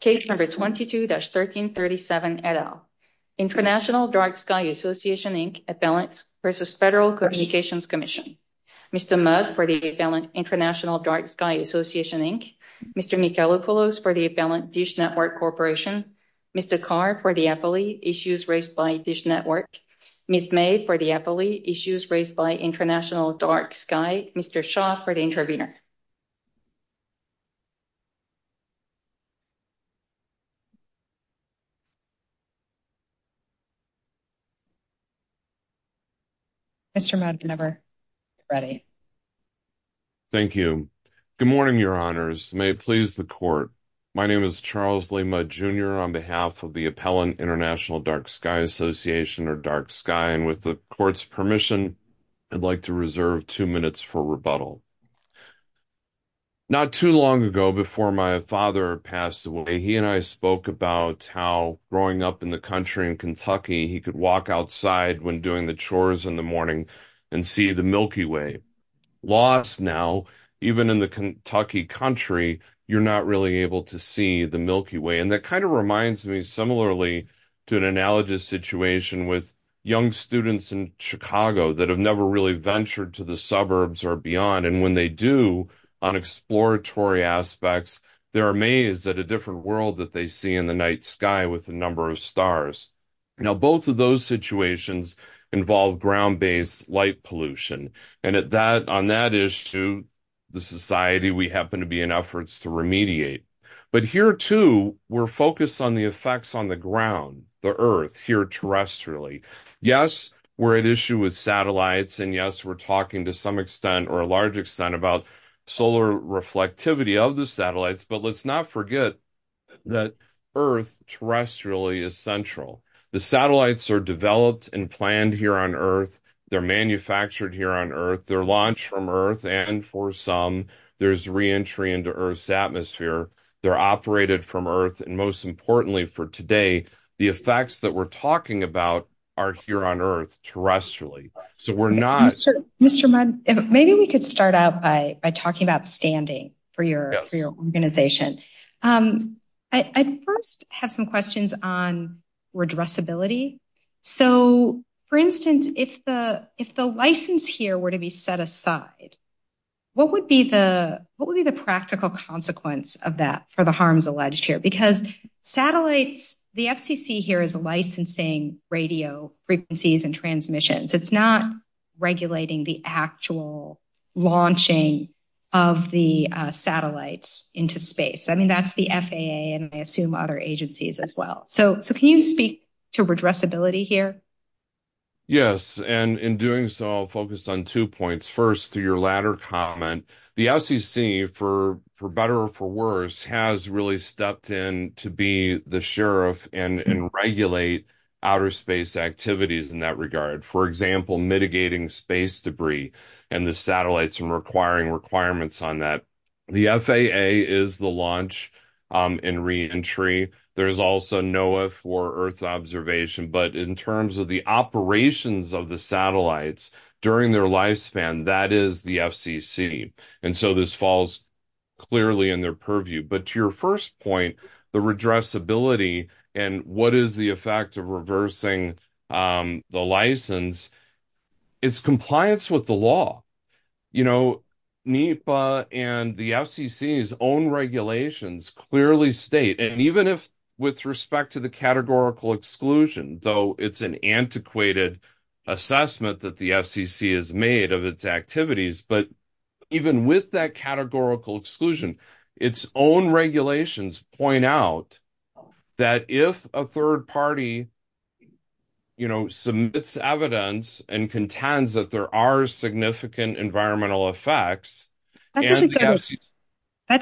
Case number 22-1337 et al. International Dark-Sky Association, Inc. Appellants v. Federal Communications Commission. Mr. Mugg for the Appellant International Dark-Sky Association, Inc. Mr. Michelokoulos for the Appellant Dish Network Corporation. Mr. Carr for the FLE, Issues Raised by Dish Network. Ms. May for the FLE, Issues Raised by International Dark-Sky. Mr. Shaw for the Intervenor. Mr. Mudd, whenever you're ready. Thank you. Good morning, Your Honors. May it please the Court. My name is Charles Lee Mudd, Jr. On behalf of the Appellant International Dark-Sky Association, or Dark-Sky, and with the Not too long ago, before my father passed away, he and I spoke about how growing up in the country in Kentucky, he could walk outside when doing the chores in the morning and see the Milky Way. Lost now, even in the Kentucky country, you're not really able to see the Milky Way. And that kind of reminds me similarly to an analogous situation with young students in Chicago that have never really ventured to the suburbs or beyond. And when they do, on exploratory aspects, they're amazed at a different world that they see in the night sky with a number of stars. Now, both of those situations involve ground-based light pollution. And on that issue, the society, we happen to be in efforts to remediate. But here, too, we're focused on the effects on the ground, the Earth, here terrestrially. Yes, we're at issue with satellites. And yes, we're talking to some extent or a large extent about solar reflectivity of the satellites. But let's not forget that Earth terrestrially is central. The satellites are developed and planned here on Earth. They're manufactured here on Earth. They're launched from Earth. And for some, there's re-entry into Earth's atmosphere. They're operated from Earth. And most importantly for today, the effects that we're talking about are here on Earth terrestrially. So we're not... Mr. Mudd, maybe we could start out by talking about standing for your organization. I first have some questions on redressability. So, for instance, if the license here were to be set aside, what would be the practical consequence of that for the harms alleged here? Because satellites, the FCC here is licensing radio frequencies and transmissions. It's not regulating the actual launching of the satellites into space. I mean, that's the FAA and I assume other agencies as well. So can you speak to redressability here? Yes. And in doing so, focus on two points. First, to your latter comment, the FCC for better or for worse has really stepped in to be the sheriff and regulate outer space activities in that regard. For example, mitigating space debris and the satellites and requiring requirements on that. The FAA is the launch and re-entry. There's also NOAA for Earth observation. But in terms of the operations of the satellites during their lifespan, that is the FCC. And so this falls clearly in their purview. But to your first point, the redressability and what is the effect of reversing the license, it's compliance with the law. NEPA and the FCC's own regulations clearly state, and even if with respect to the categorical exclusion, though it's an antiquated assessment that the FCC has made of its activities, but even with that categorical exclusion, its own regulations point out that if a third party submits evidence and contends that there are significant environmental effects... That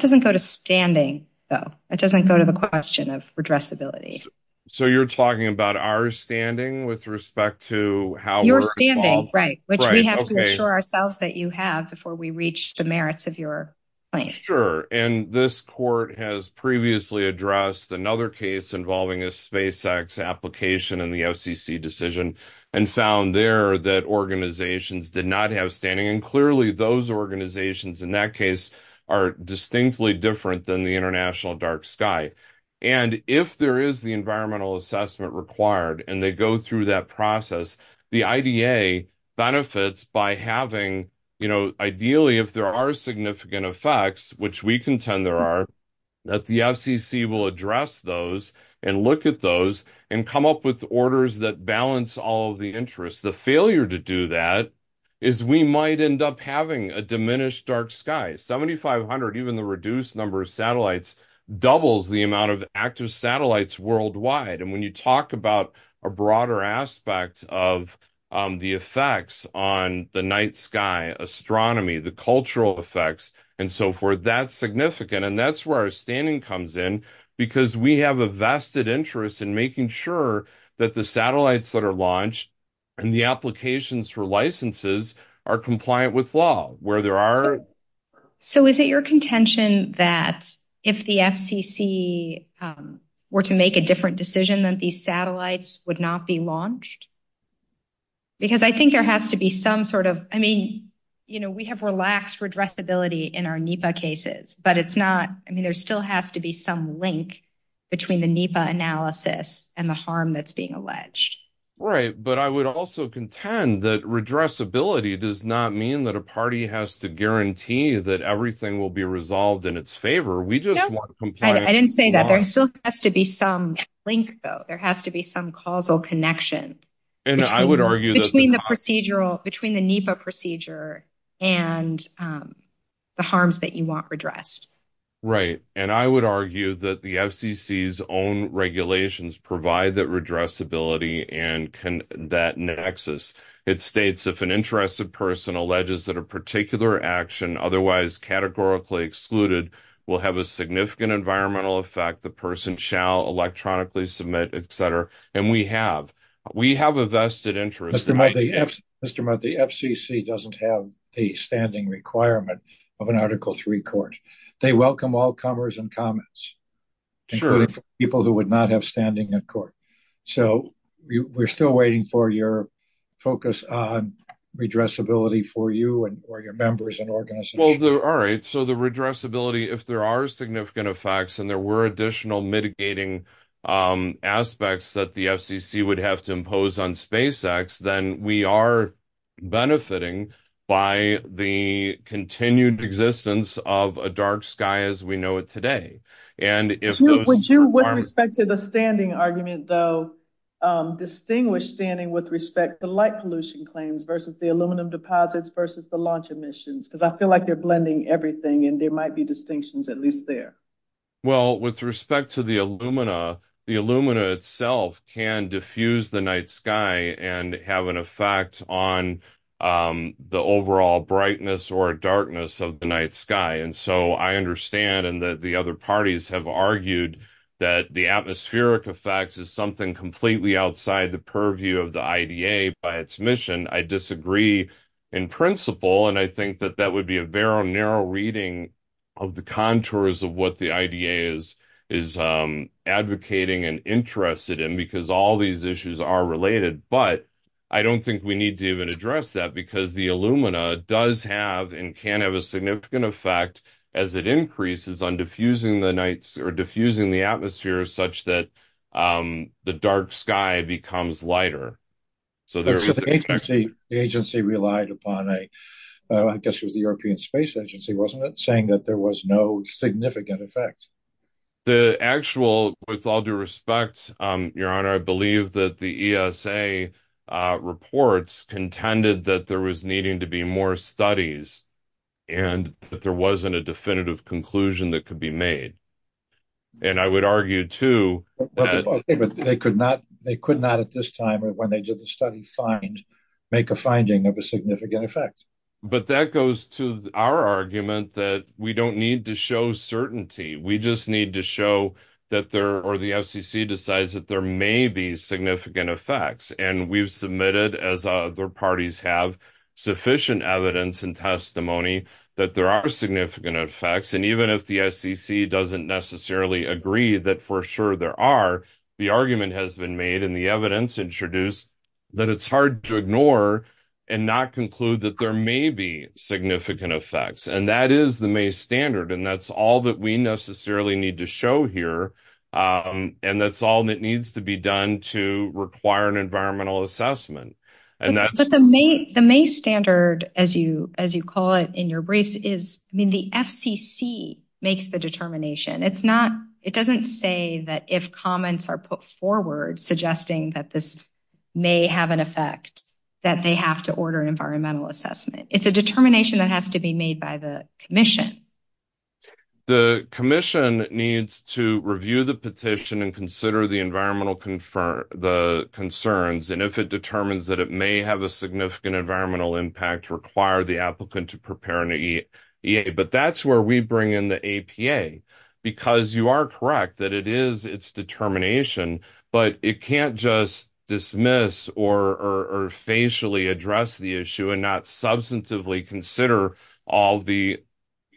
doesn't go to standing, though. That doesn't go to the question of redressability. So you're talking about our standing with respect to how... Your standing, right. Which we have to assure ourselves that you have before we reach the merits of your claim. Sure. And this court has previously addressed another case involving a SpaceX application in the FCC decision and found there that organizations did not have standing. And clearly those organizations in that case are distinctly different than the International Dark Sky. And if there is the environmental assessment required and they go through that process, the IDA benefits by having, ideally, if there are significant effects, which we contend there are, that the FCC will address those and look at those and come up with orders that balance all the interests. The failure to do that is we might end up having a diminished dark sky. 7,500, even the reduced number of satellites, doubles the amount of active satellites worldwide. And when you talk about a broader aspect of the effects on the night sky, astronomy, the cultural effects, and so forth, that's significant. And that's where our standing comes in, because we have a vested interest in making sure that the satellites that are launched and the applications for licenses are compliant with law, where there are... So is it your contention that if the FCC were to make a different decision, that these satellites would not be launched? Because I think there has to be some sort of... But it's not... I mean, there still has to be some link between the NEPA analysis and the harm that's being alleged. Right. But I would also contend that redressability does not mean that a party has to guarantee that everything will be resolved in its favor. We just want... I didn't say that. There still has to be some link, though. There has to be some causal connection. And I would argue that... Between the procedural... Between the NEPA procedure and the harms that you want redressed. Right. And I would argue that the FCC's own regulations provide that redressability and that nexus. It states, if an interested person alleges that a particular action, otherwise categorically excluded, will have a significant environmental effect, the person shall electronically submit, et cetera. And we have a vested interest... Mr. Mudd, the FCC doesn't have a standing requirement of an Article 3 court. They welcome all comers and comments. Sure. Including people who would not have standing in court. So we're still waiting for your focus on redressability for you and for your members and organizations. Well, all right. So the redressability, if there are significant effects and there were additional mitigating aspects that the FCC would have to impose on SpaceX, then we are benefiting by the continued existence of a dark sky as we know it today. Would you, with respect to the standing argument, though, distinguish standing with respect to light pollution claims versus the aluminum deposits versus the launch emissions? Because I feel like blending everything and there might be distinctions at least there. Well, with respect to the alumina, the alumina itself can diffuse the night sky and have an effect on the overall brightness or darkness of the night sky. And so I understand, and that the other parties have argued, that the atmospheric effect is something completely outside the purview of the IDA by its degree in principle. And I think that that would be a very narrow reading of the contours of what the IDA is advocating and interested in because all these issues are related. But I don't think we need to even address that because the alumina does have and can have a significant effect as it increases on diffusing the atmosphere such that the dark sky becomes lighter. So the agency relied upon a, I guess it was the European Space Agency, wasn't it, saying that there was no significant effect? The actual, with all due respect, Your Honor, I believe that the ESA reports contended that there was needing to be more studies and that there wasn't a definitive conclusion that could be made. And I would argue, too, they could not at this time or when they did the study make a finding of a significant effect. But that goes to our argument that we don't need to show certainty. We just need to show that there, or the FCC decides that there may be significant effects. And we've submitted, as other parties have, sufficient evidence and testimony that there are significant effects. And even if the FCC doesn't necessarily agree that for sure there are, the argument has been made and the evidence introduced that it's hard to ignore and not conclude that there may be significant effects. And that is the MACE standard. And that's all that we necessarily need to show here. And that's all that needs to be done to require an environmental assessment. But the MACE standard, as you call it in your brief, is, I mean, the FCC makes the determination. It's not, it doesn't say that if comments are put forward suggesting that this may have an effect, that they have to order an environmental assessment. It's a determination that has to be made by the commission. The commission needs to review the petition and consider the environmental concerns. And if it determines that it may have a significant environmental impact, require the applicant to prepare an EA. But that's where we bring in the APA, because you are correct that it is its determination, but it can't just dismiss or facially address the issue and not substantively consider all the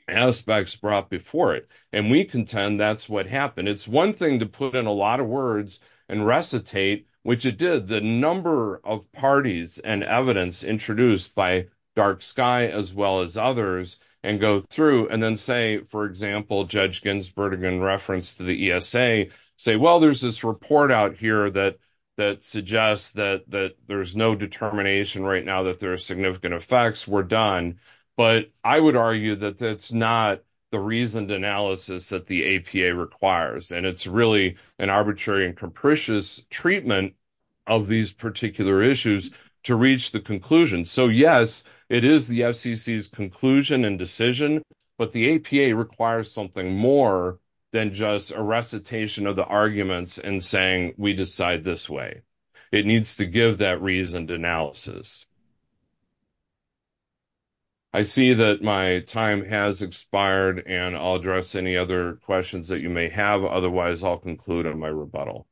aspects brought before it. And we contend that's what happened. It's one thing to put in a lot of words and recitate, which it did, the number of parties and evidence introduced by Dark Sky, as well as others, and go through and then say, for example, Judge Ginsburg in reference to the ESA, say, well, there's this report out here that suggests that there's no determination right now that there is a reasoned analysis that the APA requires. And it's really an arbitrary and capricious treatment of these particular issues to reach the conclusion. So, yes, it is the FCC's conclusion and decision, but the APA requires something more than just a recitation of the arguments and saying we decide this way. It needs to give that reasoned analysis. I see that my time has expired, and I'll address any other questions that you may have. Otherwise, I'll conclude on my rebuttal.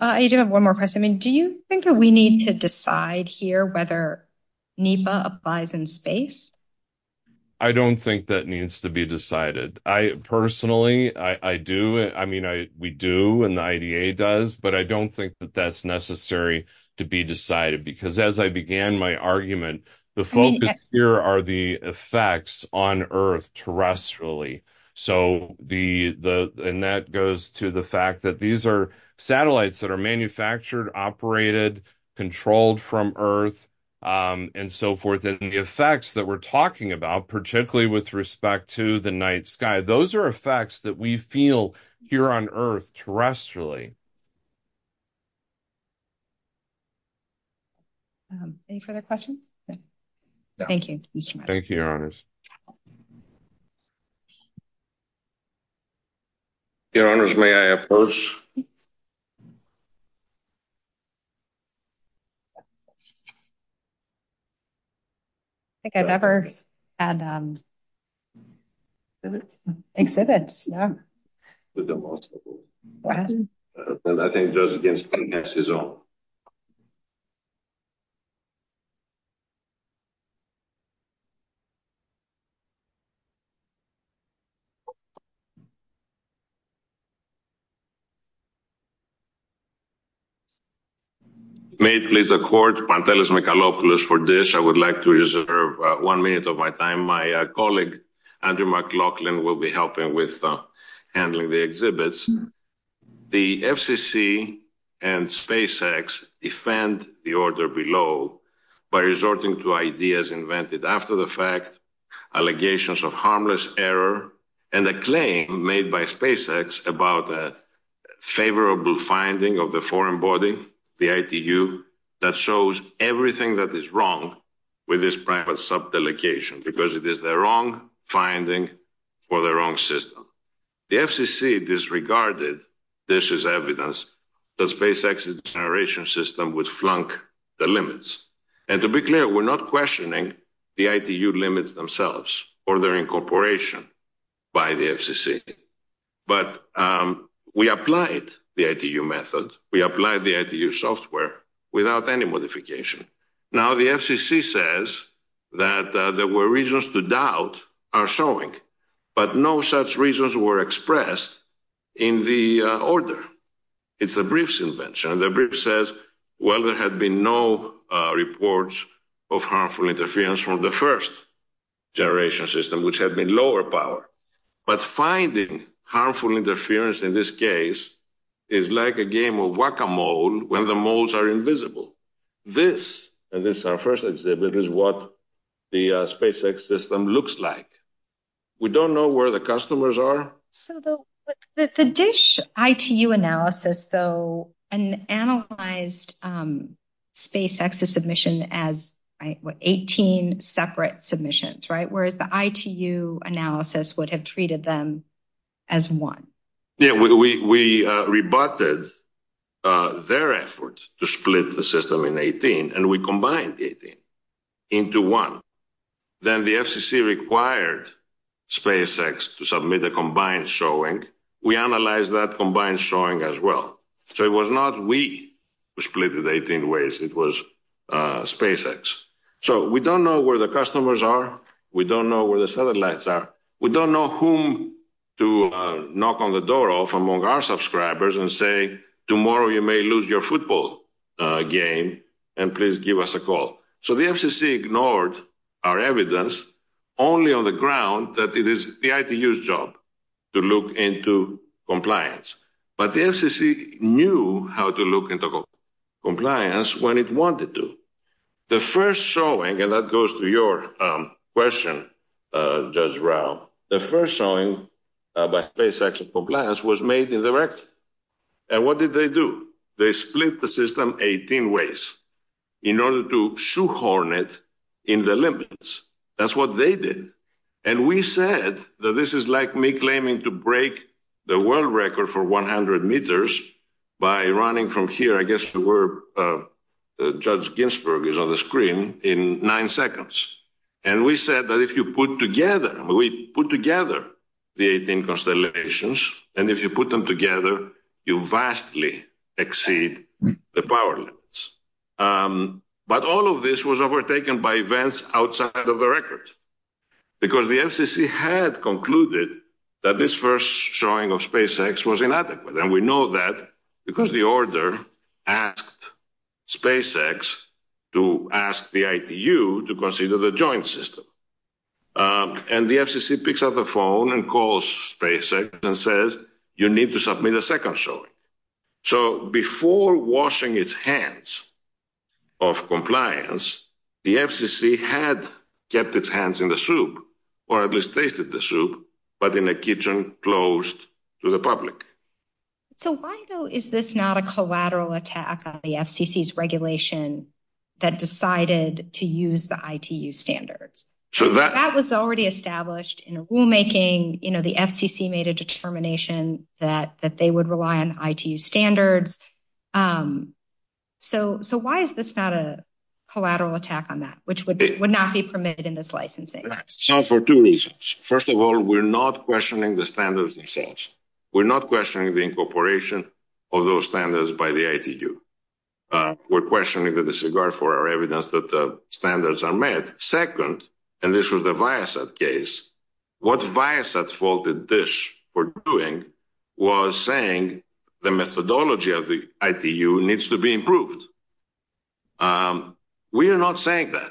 I do have one more question. Do you think that we need to decide here whether NEPA applies in space? I don't think that needs to be decided. Personally, I do. I mean, we do, and the IDA does, but I don't think that that's necessary to be decided, because as I began my argument, the focus here are the effects on Earth terrestrially. And that goes to the fact that these are satellites that are manufactured, operated, controlled from Earth, and so forth. And the effects that we're talking about, particularly with respect to the night sky, those are effects that we feel here on Earth terrestrially. Any further questions? Thank you. Thank you, Your Honors. Your Honors, may I ask first? I think I've never had an exhibit, yeah. I think Josephine has his own. May it please the Court, Pantelis Michalopoulos for this. I would like to reserve one minute of my time. My colleague, Andrew McLaughlin, will be helping with handling the exhibits. The FCC and SpaceX defend the order below by resorting to ideas invented after the fact, allegations of harmless error, and a claim made by SpaceX about a favorable finding of the foreign body, the ITU, that shows everything that is wrong with this private subdelegation, because it is the wrong finding for the wrong system. The FCC disregarded this as evidence that SpaceX's generation system would flunk the limits. And to be clear, we're not questioning the ITU limits themselves or their incorporation by the FCC. But we applied the ITU method. We applied the ITU software without any modification. Now, the FCC says that there were reasons to doubt our showing, but no such reasons were expressed in the order. It's the brief's invention. The brief says, well, there had been no reports of harmful interference from the first generation system, which had been lower power. But finding harmful interference in this case is like a game of whack-a-mole when the moles are invisible. This, and this is our first exhibit, is what the SpaceX system looks like. We don't know where the customers are. The DISH ITU analysis, though, analyzed SpaceX's submission as 18 separate submissions, right? Whereas the ITU analysis would have treated them as one. Yeah, we rebutted their efforts to split the system in 18 and we combined 18 into one. Then the FCC required SpaceX to submit a combined showing. We analyzed that combined showing as well. So it was not we who split it 18 ways, it was SpaceX. So we don't know where the customers are. We don't know where the satellites are. We don't know whom to knock on the door of among our subscribers and say, tomorrow you may lose your football game and please give us a call. So the FCC ignored our evidence only on the ground that it is the ITU's job to look into compliance. But the FCC knew how to look into compliance when it wanted to. The first showing, and that goes to your question, Judge Rao, the first showing by SpaceX of compliance was made indirect. And what did they do? They split the system 18 ways in order to shoehorn it in the Olympics. That's what they did. And we said that this is like me claiming to break the world record for 100 meters by running from here, I guess where Judge Ginsberg is on the screen, in nine seconds. And we said that if you put together, we put together the 18 constellations, and if you put them together, you vastly exceed the power limits. But all of this was overtaken by events outside of the record. Because the FCC had concluded that this first showing of SpaceX was inadequate. And we know that because the order asked SpaceX to ask the ITU to consider the joint system. And the FCC picks up the phone and calls SpaceX and says, you need to submit a second showing. So before washing its hands of compliance, the FCC had kept its hands in the soup, or at least tasted the soup, but in a kitchen closed to the public. So why though, is this not a collateral attack on the FCC's regulation that decided to use the ITU standards? So that was already established in the rulemaking, you know, the FCC made a determination that they would rely on ITU standards. So why is this not a collateral attack on that, which would not be permitted in this licensing? So for two reasons. First of all, we're not questioning the standards themselves. We're not questioning the incorporation of those standards by the ITU. We're questioning the disregard for our evidence that the standards are met. Second, and this was the Viasat case, what Viasat faulted DISH for doing was saying, the methodology of the ITU needs to be improved. We are not saying that.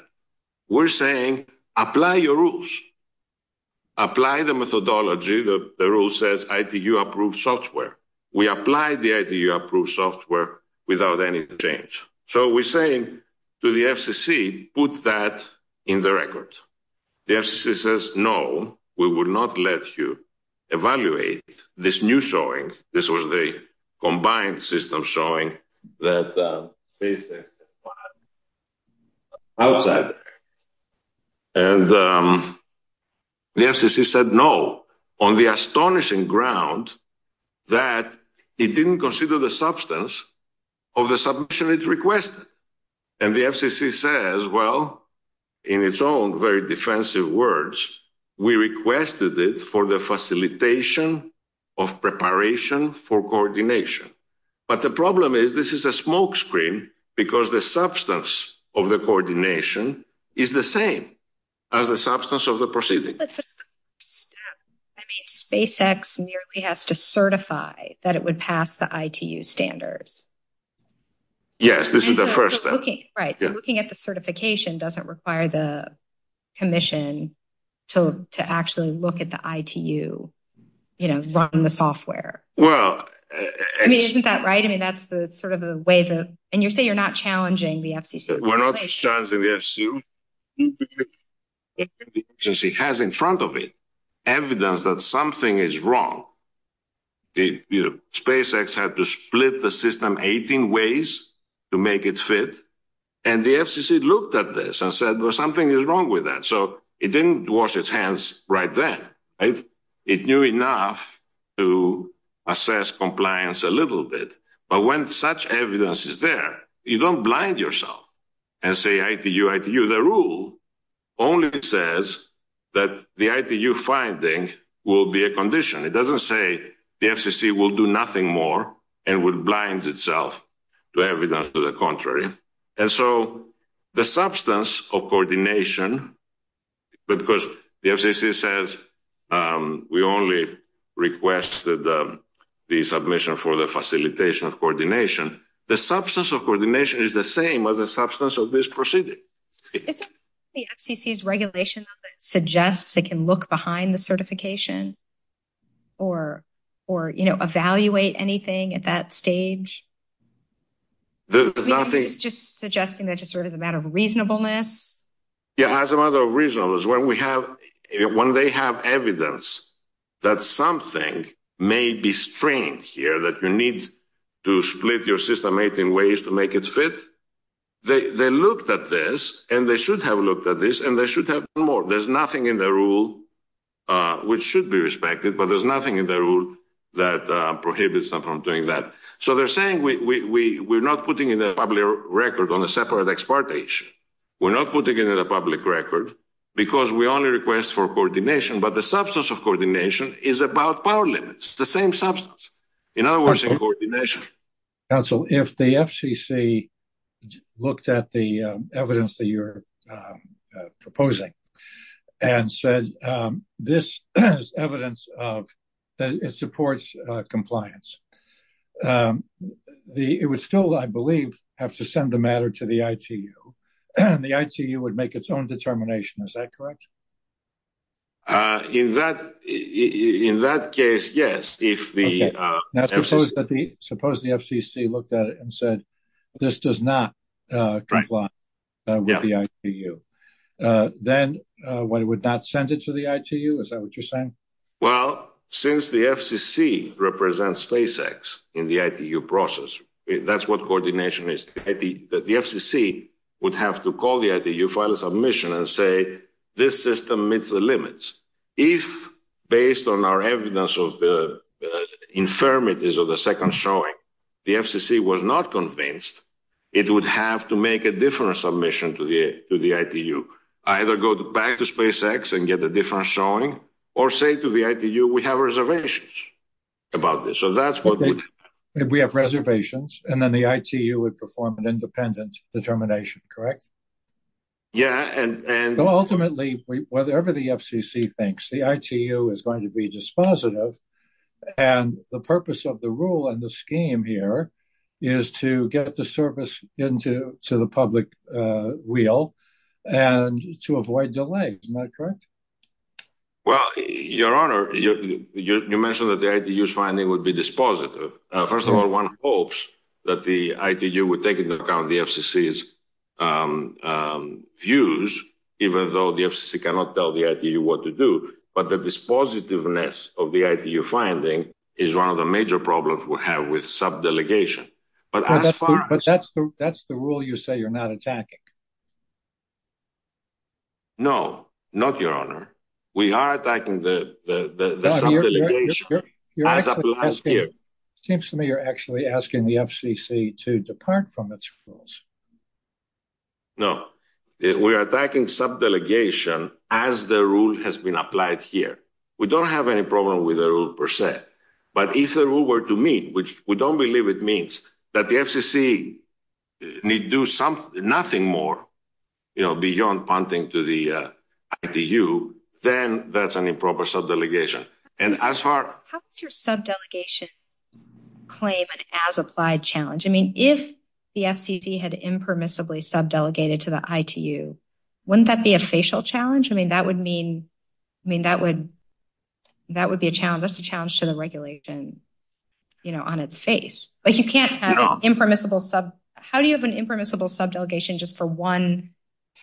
We're saying, apply your rules. Apply the methodology that the rule says ITU approved software. We applied the ITU approved software without any change. So we're saying to the FCC, put that in the record. The FCC says, no, we will not let you evaluate this new showing. This was the combined system showing that Viasat. And the FCC said, no, on the astonishing ground that it didn't consider the substance of the submission it requested. And the FCC says, well, in its own very defensive words, we requested it for the facilitation of preparation for coordination. But the problem is this is a smokescreen because the substance of the coordination is the same as the substance of the proceeding. I mean, SpaceX merely has to certify that it would pass the ITU standards. Yes, this is the first step. Right. So looking at the certification doesn't require the commission to actually look at the ITU, you know, running the software. Well, I mean, isn't that right? I mean, that's the sort of a way to, and you say you're not challenging the FCC. We're not challenging the FCC. It has in front of it evidence that something is wrong. The, you know, SpaceX had to split the system 18 ways to make it fit. And the FCC looked at this and said, well, something is wrong with that. So it didn't wash its hands right then. It knew enough to assess compliance a little bit. But when such evidence is there, you don't blind yourself and say ITU, ITU. The rule only says that the ITU finding will be a condition. It doesn't say the FCC will do nothing more and would blind itself to evidence to the contrary. And so the substance of coordination, because the FCC says we only request that the submission for the facilitation of coordination, the substance of coordination is the same as the substance of this proceeding. If the FCC's regulation suggests they can look behind the certification or, you know, evaluate anything at that stage, just suggesting that it's sort of a matter of reasonableness. Yeah, as a matter of reasonableness, when we have, when they have evidence that something may be strange here, that you need to split your system 18 ways to make it fit, they looked at this and they should have looked at this and they should have done more. There's nothing in the rule that prohibits them from doing that. So they're saying we're not putting in a public record on a separate exportation. We're not putting it in a public record because we only request for coordination, but the substance of coordination is about power limits, the same substance. In other words, in coordination. Counsel, if the FCC looked at the evidence that it supports compliance, it would still, I believe, have to send the matter to the ITU and the ITU would make its own determination. Is that correct? In that case, yes. Suppose the FCC looked at it and said, this does not comply with the ITU. Then what it would not send it to the ITU. Is that what you're saying? Well, since the FCC represents SpaceX in the ITU process, that's what coordination is. The FCC would have to call the ITU, file a submission and say, this system meets the limits. If based on our evidence of the infirmities of the second showing, the FCC was not convinced, it would have to make a different submission to the, to the ITU. Either go back to SpaceX and get a different showing or say to the ITU, we have reservations about this. So that's what we have. Reservations. And then the ITU would perform an independent determination, correct? Yeah. And ultimately, whatever the FCC thinks, the ITU is going to be dispositive. And the purpose of the rule and the scheme here is to get the service into, to the public wheel and to avoid delays. Am I correct? Well, your honor, you mentioned that the ITU's finding would be dispositive. First of all, one hopes that the ITU would take into account the FCC's views, even though the FCC cannot tell the ITU what to do. But the dispositiveness of the ITU finding is one of the major problems we'll have with sub-delegation. But that's the rule you say you're not attacking? No, not your honor. We are attacking the sub-delegation. Seems to me you're actually asking the FCC to depart from its rules. No, we are attacking sub-delegation as the rule has been applied here. We don't have any problem with the rule per se, but if the rule were to mean, which we don't believe it means, that the do something, nothing more, you know, beyond punting to the ITU, then that's an improper sub-delegation. And as far... How would your sub-delegation claim an as-applied challenge? I mean, if the FCC had impermissibly sub-delegated to the ITU, wouldn't that be a facial challenge? I mean, that would mean, I mean, that would, that would be a challenge. That's a challenge to the regulation, you know, on its face. But you can't have an impermissible sub... How do you have an impermissible sub-delegation just for one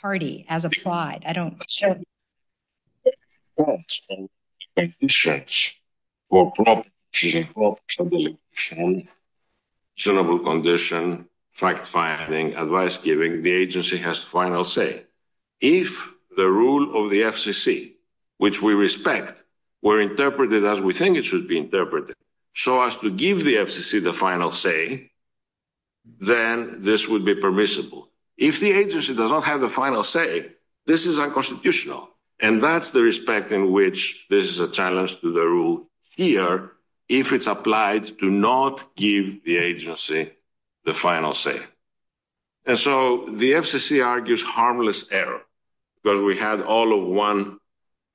party, as applied? I don't... Senable condition, fact-finding, advice-giving, the agency has final say. If the rule of the FCC, which we respect, were interpreted as we think it should be interpreted, show us to give the FCC the final say, then this would be permissible. If the agency does not have the final say, this is unconstitutional. And that's the respect in which this is a challenge to the rule here, if it's applied to not give the agency the final say. And so, the FCC argues harmless error, but we had all of one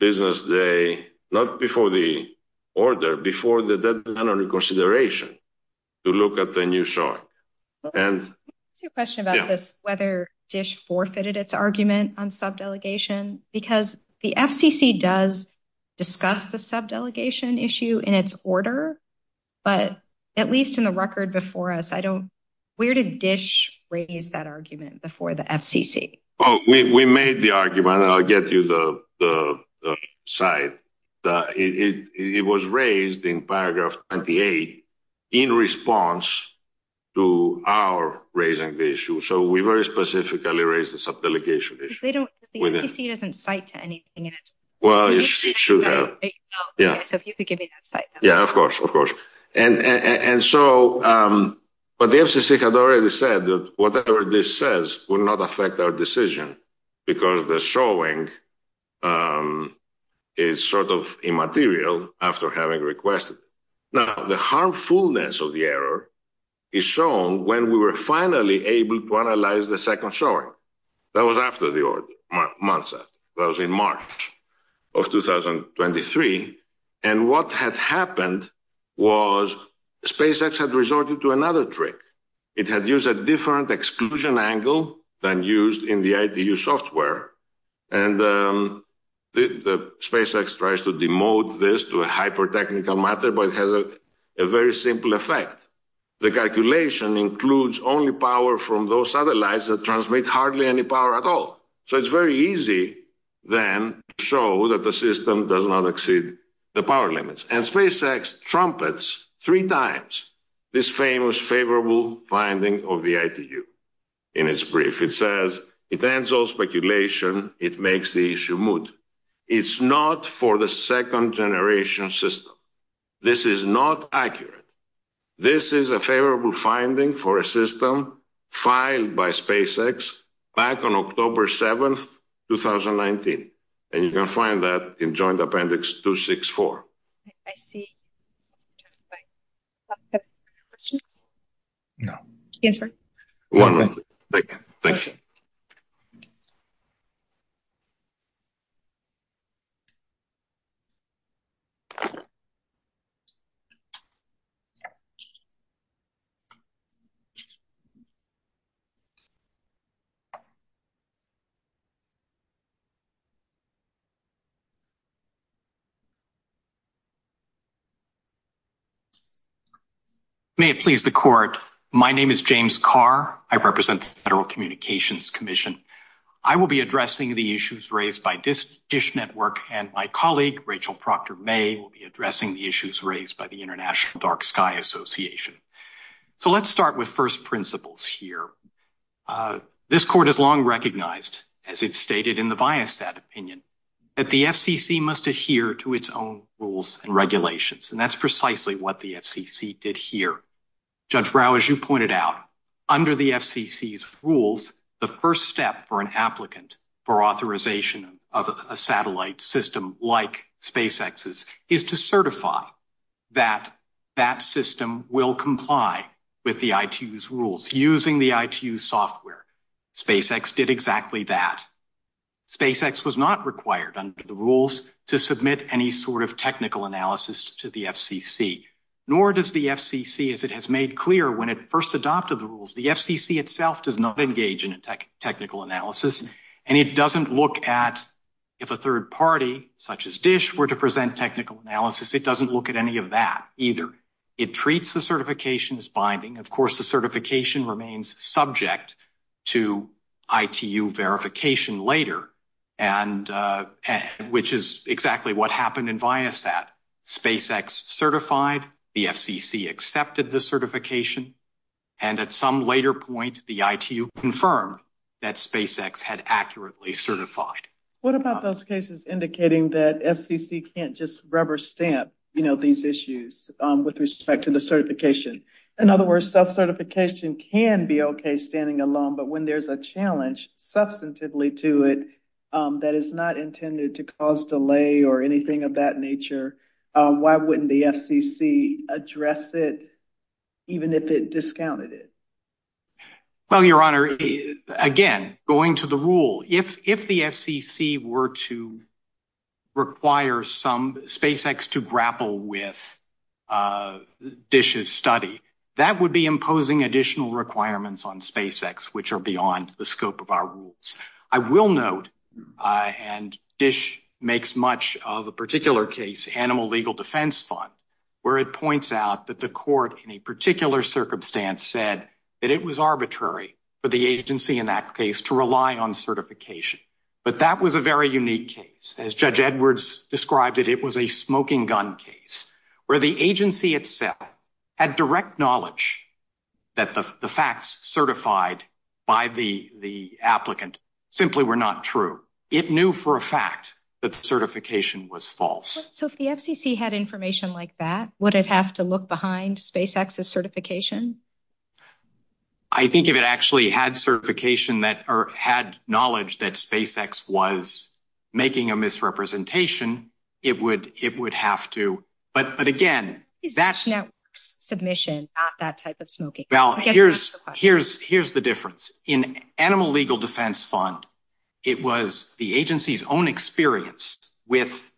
business day, not before the order, before the deadline on consideration, to look at the new short. And... I have a question about this, whether DISH forfeited its argument on sub-delegation, because the FCC does discuss the sub-delegation issue in its order, but at least in the record before us, I don't... Where did DISH raise that argument? Oh, we made the argument, and I'll get you the side. It was raised in paragraph 28, in response to our raising the issue. So, we very specifically raised the sub-delegation issue. They don't... The FCC doesn't fight to anything in it. Well, it should have. Yeah. So, if you could give me that slide. Yeah, of course, of course. And so, but the FCC has already said that whatever DISH says will not affect our decision, because the showing is sort of immaterial after having requested it. Now, the harmfulness of the error is shown when we were finally able to analyze the second showing. That was after the onset. That was in March of 2023. And what had happened was SpaceX had resorted to another trick. It had used a different exclusion angle than used in the ITU software. And SpaceX tries to demote this to a hyper-technical matter, but it has a very simple effect. The calculation includes only power from those satellites that transmit hardly any power at all. So, it's very easy, then, to show that the system does not exceed the power limits. And SpaceX trumpets three times this famous favorable finding of the ITU in its brief. It says, it ends all speculation. It makes the issue moot. It's not for the second generation system. This is not accurate. This is a favorable finding for a system filed by SpaceX back on October 7th, 2019. And you can find that in Joint Appendix 264. May it please the court. My name is James Carr. I represent the Federal Communications Commission. I will be addressing the issues raised by DISH Network, and my colleague, Rachel Proctor-May, will be addressing the issues raised by the International Dark Sky Association. So, let's start with first principles here. This court has long recognized, as it's stated in the Biostat opinion, that the FCC must adhere to its own rules and regulations. And that's precisely what the FCC did here. Judge Rao, as you pointed out, under the FCC's rules, the first step for an applicant for authorization of a satellite system like SpaceX's is to certify that that system will comply with the ITU's rules using the ITU software. SpaceX did exactly that. SpaceX was not required under the rules to submit any sort of technical analysis to the FCC, nor does the FCC, as it has made clear when it first adopted the rules, the FCC itself does not engage in technical analysis. And it doesn't look at if a third party, such as DISH, were to present technical analysis, it doesn't look at any of that either. It treats the certification as binding. Of course, the certification remains subject to ITU verification later, which is exactly what happened in Biostat. SpaceX certified, the FCC accepted the certification, and at some later point, the ITU confirmed that SpaceX had accurately certified. What about those cases indicating that FCC can't just rubber stamp these issues with respect to the certification? In other words, self-certification can be okay standing alone, but when there's a challenge substantively to it that is not intended to cause delay or anything of that nature, why wouldn't the FCC address it, even if it discounted it? Well, Your Honor, again, going to the rule, if the FCC were to require SpaceX to grapple with DISH's study, that would be imposing additional requirements on SpaceX, which are beyond the scope of our rules. I will note, and DISH makes much of a particular case, Animal Legal Defense Fund, where it points out that the court in a particular circumstance said that it was arbitrary for the agency in that case to rely on certification. But that was a very unique case. As Judge Edwards described it, it was a smoking gun case, where the agency itself had direct knowledge that the facts certified by the applicant simply were not true. It knew for a fact that the certification was false. So if the FCC had information like that, would it have to look behind SpaceX's certification? I think if it actually had certification or had knowledge that SpaceX was making a misrepresentation, it would have to. But again, DISH Network's submission is not that type of smoking gun case. Here's the difference. In Animal Legal Defense Fund, it was the agency's own experience with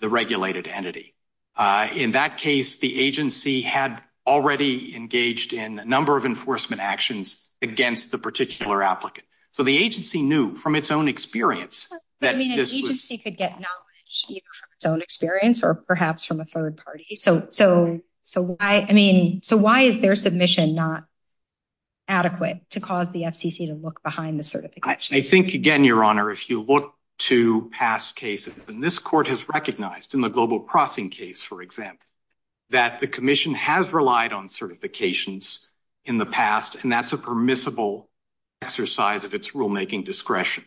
the regulated entity. In that case, the agency had already engaged in a number of enforcement actions against the particular applicant. So the agency knew from its own experience. I mean, an agency could get knowledge from its own experience or perhaps from a third party. So why is their submission not adequate to cause the FCC to look behind the certification? I think, again, Your Honor, if you look to past cases, and this court has recognized in the Global Crossing case, for example, that the commission has relied on certifications in the past, and that's a permissible exercise of its rulemaking discretion.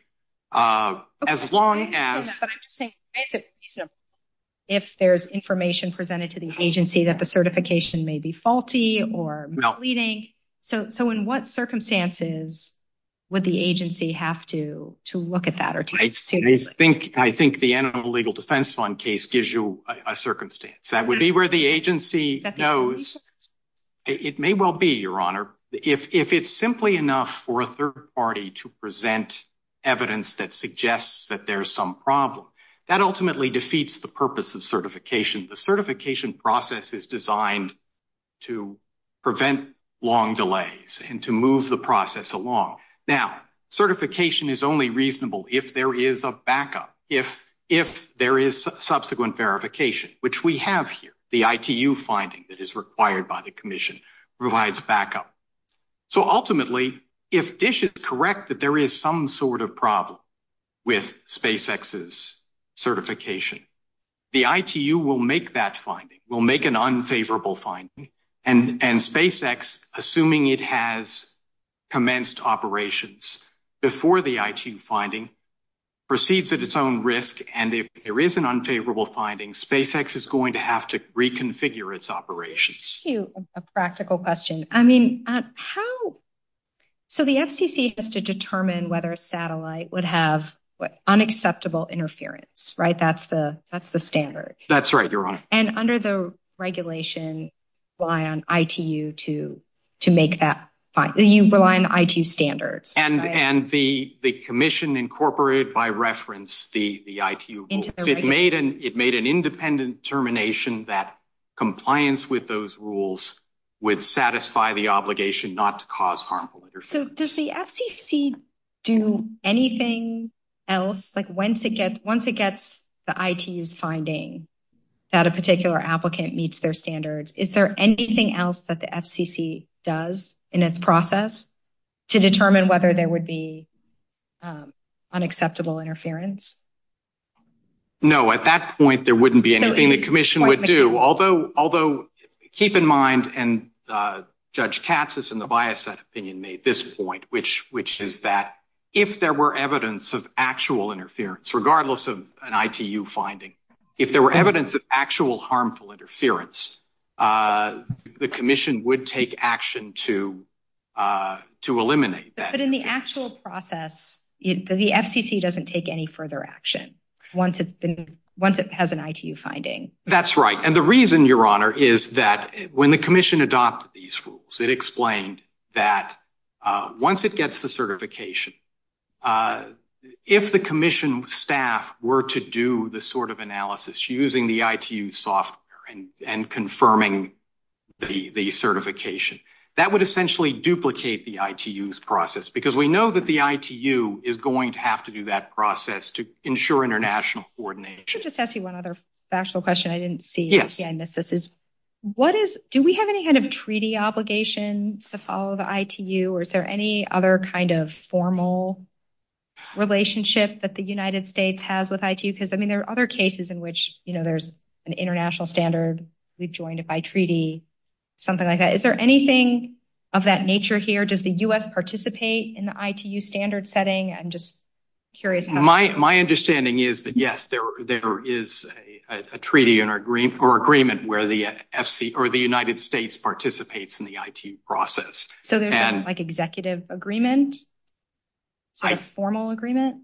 If there's information presented to the agency that the certification may be faulty or misleading, so in what circumstances would the agency have to look at that? I think the Animal Legal Defense Fund case gives you a circumstance. That would be where the agency knows. It may well be, Your Honor, if it's simply enough for a third party to present evidence that suggests that there's some problem. That ultimately defeats the purpose of certification. The certification process is designed to prevent long delays and to move the process along. Now, certification is only reasonable if there is a backup, if there is subsequent verification, which we have here. The ITU finding that is required by the commission provides backup. Ultimately, if DISH is correct that there is some sort of problem with SpaceX's certification, the ITU will make that finding, will make an unfavorable finding, and SpaceX, assuming it has commenced operations before the ITU finding, proceeds at its own risk. If there is an unfavorable finding, SpaceX is going to reconfigure its operations. A practical question. The FCC has to determine whether a satellite would have unacceptable interference. That's the standard. That's right, Your Honor. Under the regulation, rely on ITU to make that find. You rely on ITU standards. And the commission incorporated by reference the ITU rules. It made an independent determination that compliance with those rules would satisfy the obligation not to cause harmful interference. Does the FCC do anything else? Once it gets the ITU's finding that a particular applicant meets their standards, is there anything else that the FCC does in its process to determine whether there would be unacceptable interference? No, at that point, there wouldn't be anything the commission would do. Although, keep in mind, and Judge Katsas and the bias set opinion made this point, which is that if there were evidence of actual interference, regardless of an ITU finding, if there were evidence of actual harmful interference, the commission would take action to eliminate that. But in the actual process, the FCC doesn't take any further action once it has an ITU finding. That's right. And the reason, Your Honor, is that when the commission adopted these rules, it explained that once it gets the certification, if the commission staff were to do this sort of analysis using the ITU software and confirming the certification, that would essentially duplicate the ITU's process, because we know that the ITU is going to have to do that process to ensure international coordination. Just ask you one other special question I didn't see. Yes. What is, do we have any kind of treaty obligation to follow the ITU, or is there any other kind of formal relationship that the United States has with ITU? Because, I mean, there are other cases in which, you know, there's an of that nature here. Does the U.S. participate in the ITU standard setting? I'm just curious. My understanding is that, yes, there is a treaty or agreement where the United States participates in the ITU process. So there isn't, like, executive agreement, formal agreement?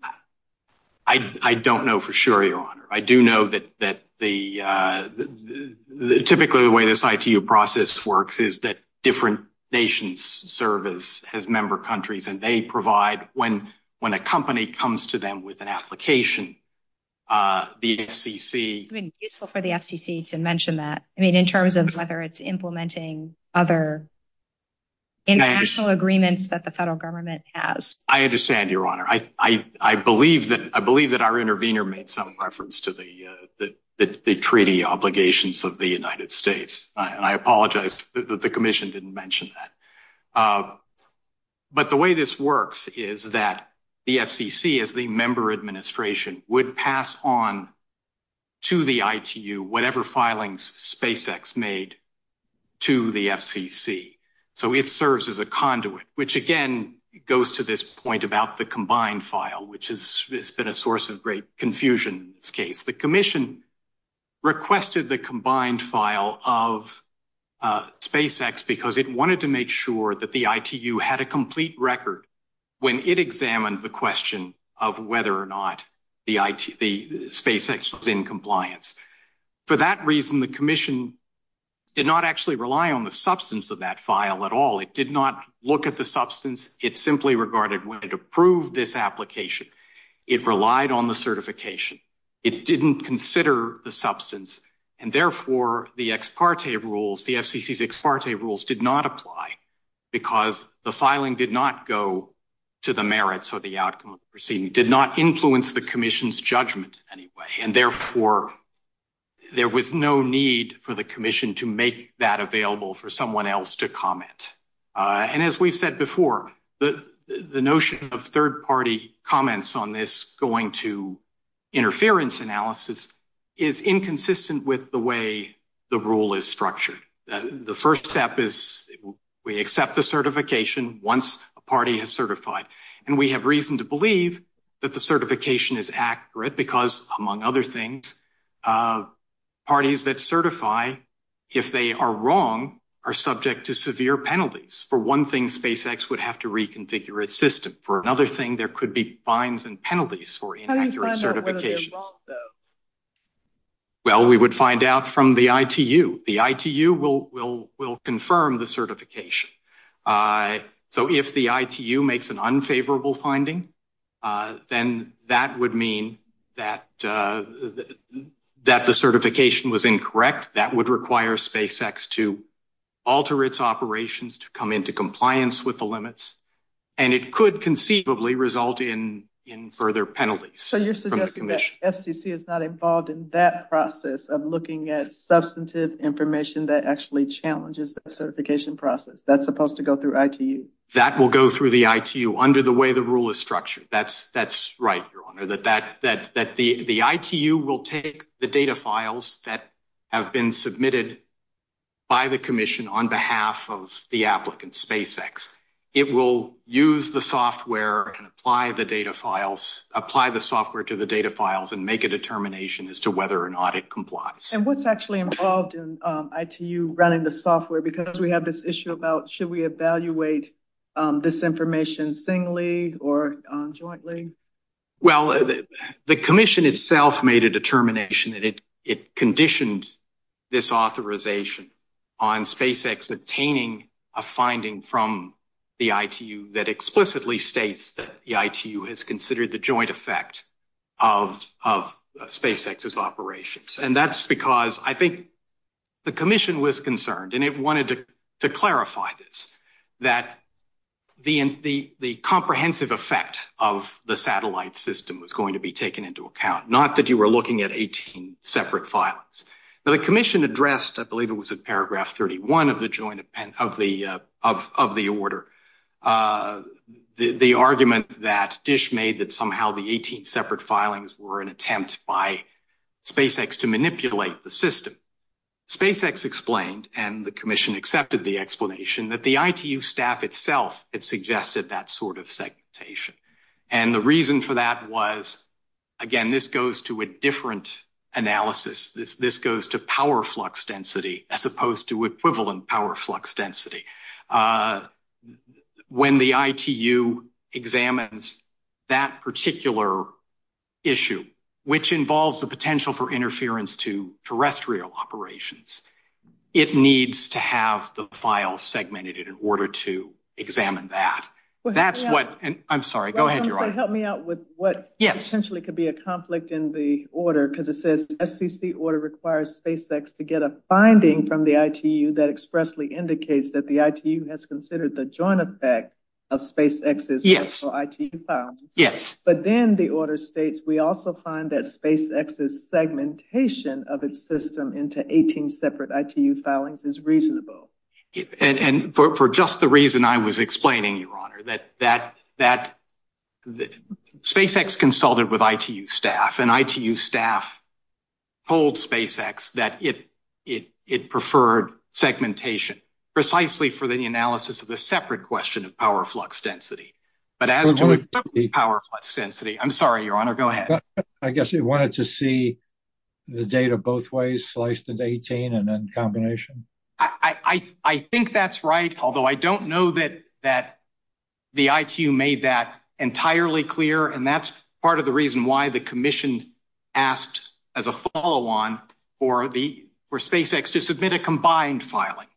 I don't know for sure, Your Honor. I do know that the, the, typically, the way this ITU process works is that different nations serve as member countries, and they provide, when a company comes to them with an application, the FCC... I mean, it's useful for the FCC to mention that. I mean, in terms of whether it's implementing other international agreements that the federal government has. I understand, Your Honor. I believe that our intervener made some reference to the treaty obligations of the United States, and I apologize that the Commission didn't mention that. But the way this works is that the FCC, as the member administration, would pass on to the ITU whatever filings SpaceX made to the FCC. So it serves as a conduit, which, again, goes to this point about the combined file, which has been a source of great confusion in this case. The Commission requested the combined file of SpaceX because it wanted to make sure that the ITU had a complete record when it examined the question of whether or not the SpaceX was in compliance. For that reason, the Commission did not actually rely on the substance of that file at all. It did not look at the substance. It simply regarded when it approved this application, it relied on certification. It didn't consider the substance. And therefore, the ex parte rules, the FCC's ex parte rules did not apply because the filing did not go to the merits of the outcome of the proceeding, did not influence the Commission's judgment in any way. And therefore, there was no need for the Commission to make that available for someone else to comment. And as we've said before, the notion of third party comments on this going to interference analysis is inconsistent with the way the rule is structured. The first step is we accept the certification once a party is certified. And we have reason to believe that the certification is accurate because, among other things, parties that certify, if they are wrong, are subject to severe penalties. For one thing, SpaceX would have to reconfigure its system. For another thing, there could be fines and penalties for inaccurate certifications. Well, we would find out from the ITU. The ITU will confirm the certification. So if the ITU makes an unfavorable finding, then that would mean that the certification was incorrect. That would require SpaceX to alter its operations to come into compliance with the limits. And it could conceivably result in further penalties. So you're suggesting that FCC is not involved in that process of looking at substantive information that actually challenges the certification process. That's supposed to go through ITU. That will go through the ITU under the way the rule is structured. That's right, Your Honor. The ITU will take the data files that have been submitted by the commission on behalf of the applicant, SpaceX. It will use the software and apply the software to the data files and make a determination as to whether or not it complies. And what's actually involved in ITU running the software? Because we have this issue about, should we evaluate this information singly or jointly? Well, the commission itself made a determination and it conditioned this authorization on SpaceX obtaining a finding from the ITU that explicitly states that the ITU has considered the joint effect of SpaceX's operations. And that's because I think the commission was concerned, and it wanted to clarify this, that the comprehensive effect of the satellite system was going to be taken into account, not that you were looking at 18 separate filings. Now the commission addressed, I believe it was in paragraph 31 of the order, the argument that Dish made that somehow the 18 separate filings were an attempt by SpaceX to the system. SpaceX explained, and the commission accepted the explanation, that the ITU staff itself had suggested that sort of segmentation. And the reason for that was, again, this goes to a different analysis. This goes to power flux density as opposed to equivalent power flux density. When the ITU examines that particular issue, which involves the potential for interference to terrestrial operations, it needs to have the file segmented in order to examine that. That's what, and I'm sorry, go ahead. Help me out with what essentially could be a conflict in the order, because it says the order requires SpaceX to get a finding from the ITU that expressly indicates that the ITU has considered the joint effect of SpaceX's ITU files. Yes. But then the system into 18 separate ITU filings is reasonable. And for just the reason I was explaining, Your Honor, that SpaceX consulted with ITU staff, and ITU staff told SpaceX that it preferred segmentation precisely for the analysis of a separate question of power flux density. But as to equivalent power flux density, I'm sorry, Your Honor, go ahead. I guess you wanted to see the data both ways, sliced at 18 and then combination. I think that's right, although I don't know that the ITU made that entirely clear. And that's part of the reason why the commission asked as a follow on for SpaceX to submit a combined filing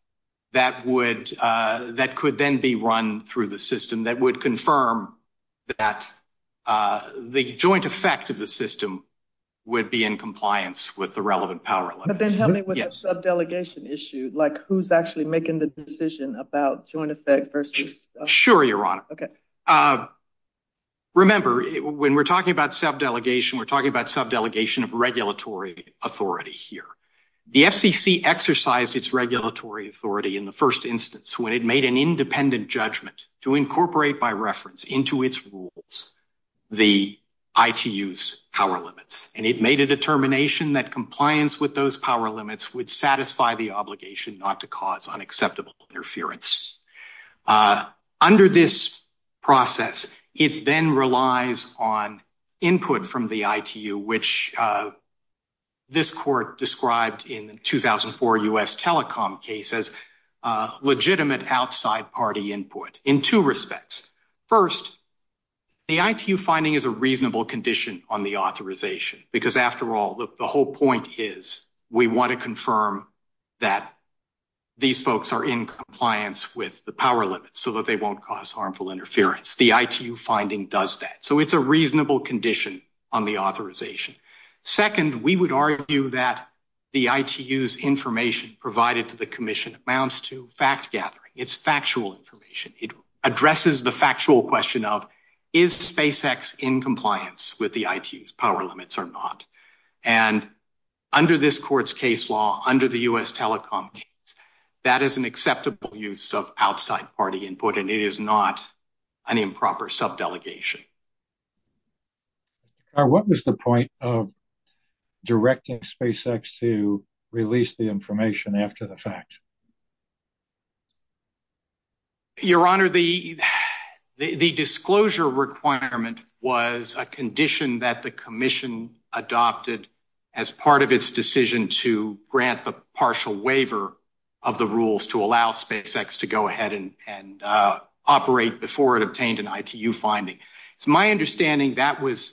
that that could then be run through the system that would confirm that the joint effect of the system would be in compliance with the relevant power level. But then help me with the subdelegation issue, like who's actually making the decision about joint effect versus... Sure, Your Honor. Okay. Remember, when we're talking about subdelegation, we're talking about subdelegation of regulatory authority here. The FCC exercised its regulatory authority in the first instance, when it made an independent judgment to incorporate by reference into its rules, the ITU's power limits. And it made a determination that compliance with those power limits would satisfy the obligation not to cause unacceptable interference. Under this process, it then relies on input from the ITU, which this court described in 2004 US telecom cases, legitimate outside party input in two respects. First, the ITU finding is a reasonable condition on the authorization, because after all, the whole point is we want to confirm that these folks are in compliance with the power limits so that they won't cause harmful interference. The ITU finding does that. So it's a reasonable condition on the authorization. Second, we would argue that the ITU's information provided to the commission amounts to fact gathering. It's factual information. It addresses the factual question of, is SpaceX in compliance with the power limits or not? And under this court's case law, under the US telecom case, that is an acceptable use of outside party input, and it is not an improper subdelegation. What was the point of directing SpaceX to release the information after the fact? Your Honor, the disclosure requirement was a condition that the commission adopted as part of its decision to grant the partial waiver of the rules to allow SpaceX to go ahead and operate before it obtained an ITU finding. It's my understanding the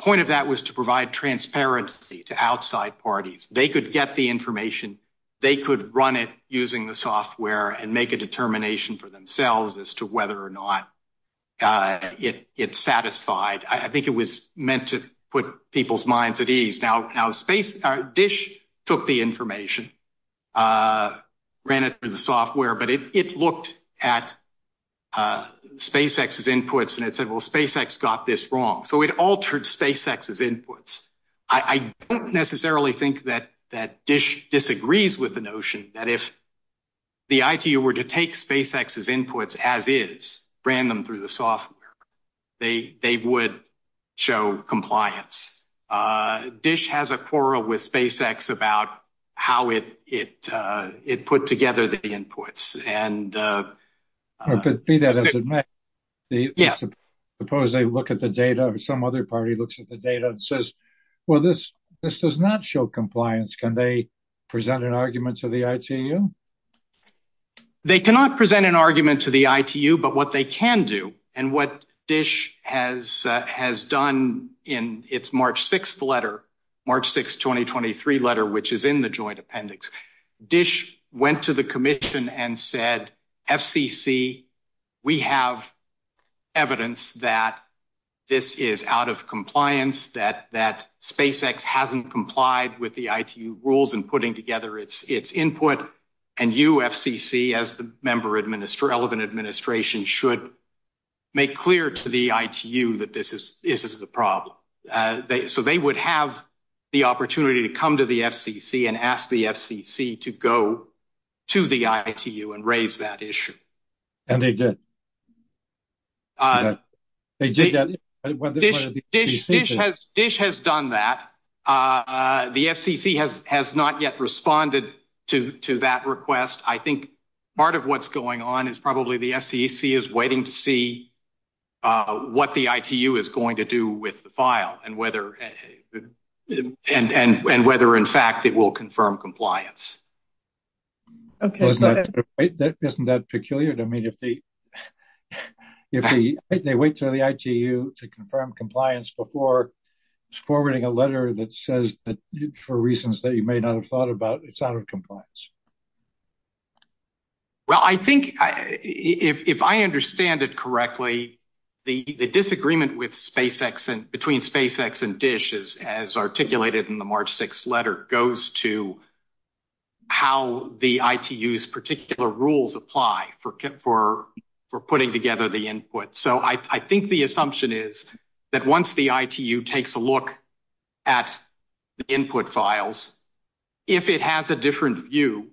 point of that was to provide transparency to outside parties. They could get the information. They could run it using the software and make a determination for themselves as to whether or not it's satisfied. I think it was meant to put people's minds at ease. Now, DISH took the information, ran it through the software, but it looked at SpaceX's inputs and it said, well, SpaceX got this wrong. So it altered SpaceX's inputs. I don't necessarily think that DISH disagrees with the notion that if the ITU were to take SpaceX's inputs as is, ran them through the software, they would show compliance. DISH has a quarrel with SpaceX about how it put together the inputs. But be that as it may, suppose they look at the data or some other party looks at the data and says, well, this does not show compliance. Can they present an argument to the ITU? They cannot present an argument to the ITU, but what they can do and what DISH has done in its March 6th letter, March 6th, 2023 letter, which is in the joint appendix, DISH went to the commission and said, FCC, we have evidence that this is out of compliance, that SpaceX hasn't complied with the ITU rules in putting together its input. And you, FCC, as the relevant administration should make clear to the ITU that this is the problem. So they would have the opportunity to come to the FCC and ask the FCC to go to the ITU and raise that issue. And they did. DISH has done that. The FCC has not yet responded to that request. I think part of what's going on probably the FCC is waiting to see what the ITU is going to do with the file and whether in fact it will confirm compliance. Isn't that peculiar to me? If they wait for the ITU to confirm compliance before forwarding a letter that says that for reasons that you may not have thought about, it's out of compliance. Well, I think if I understand it correctly, the disagreement between SpaceX and DISH as articulated in the March 6th letter goes to how the ITU's particular rules apply for putting together the input. So I think the assumption is that once the ITU takes a look at the input files, if it has a different view,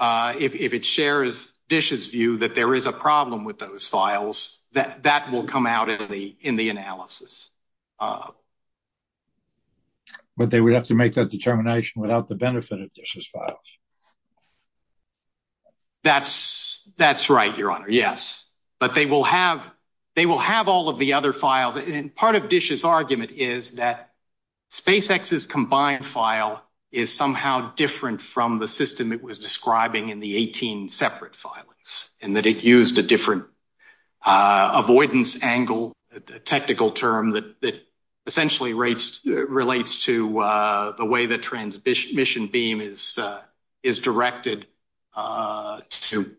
if it shares DISH's view that there is a problem with those files, that will come out in the analysis. But they would have to make that determination without the benefit of DISH's approach. That's right, Your Honor. Yes. But they will have all of the other files. And part of DISH's argument is that SpaceX's combined file is somehow different from the system it was describing in the 18 separate files and that it used a different avoidance angle, a technical term that essentially relates to the way the transmission beam is directed to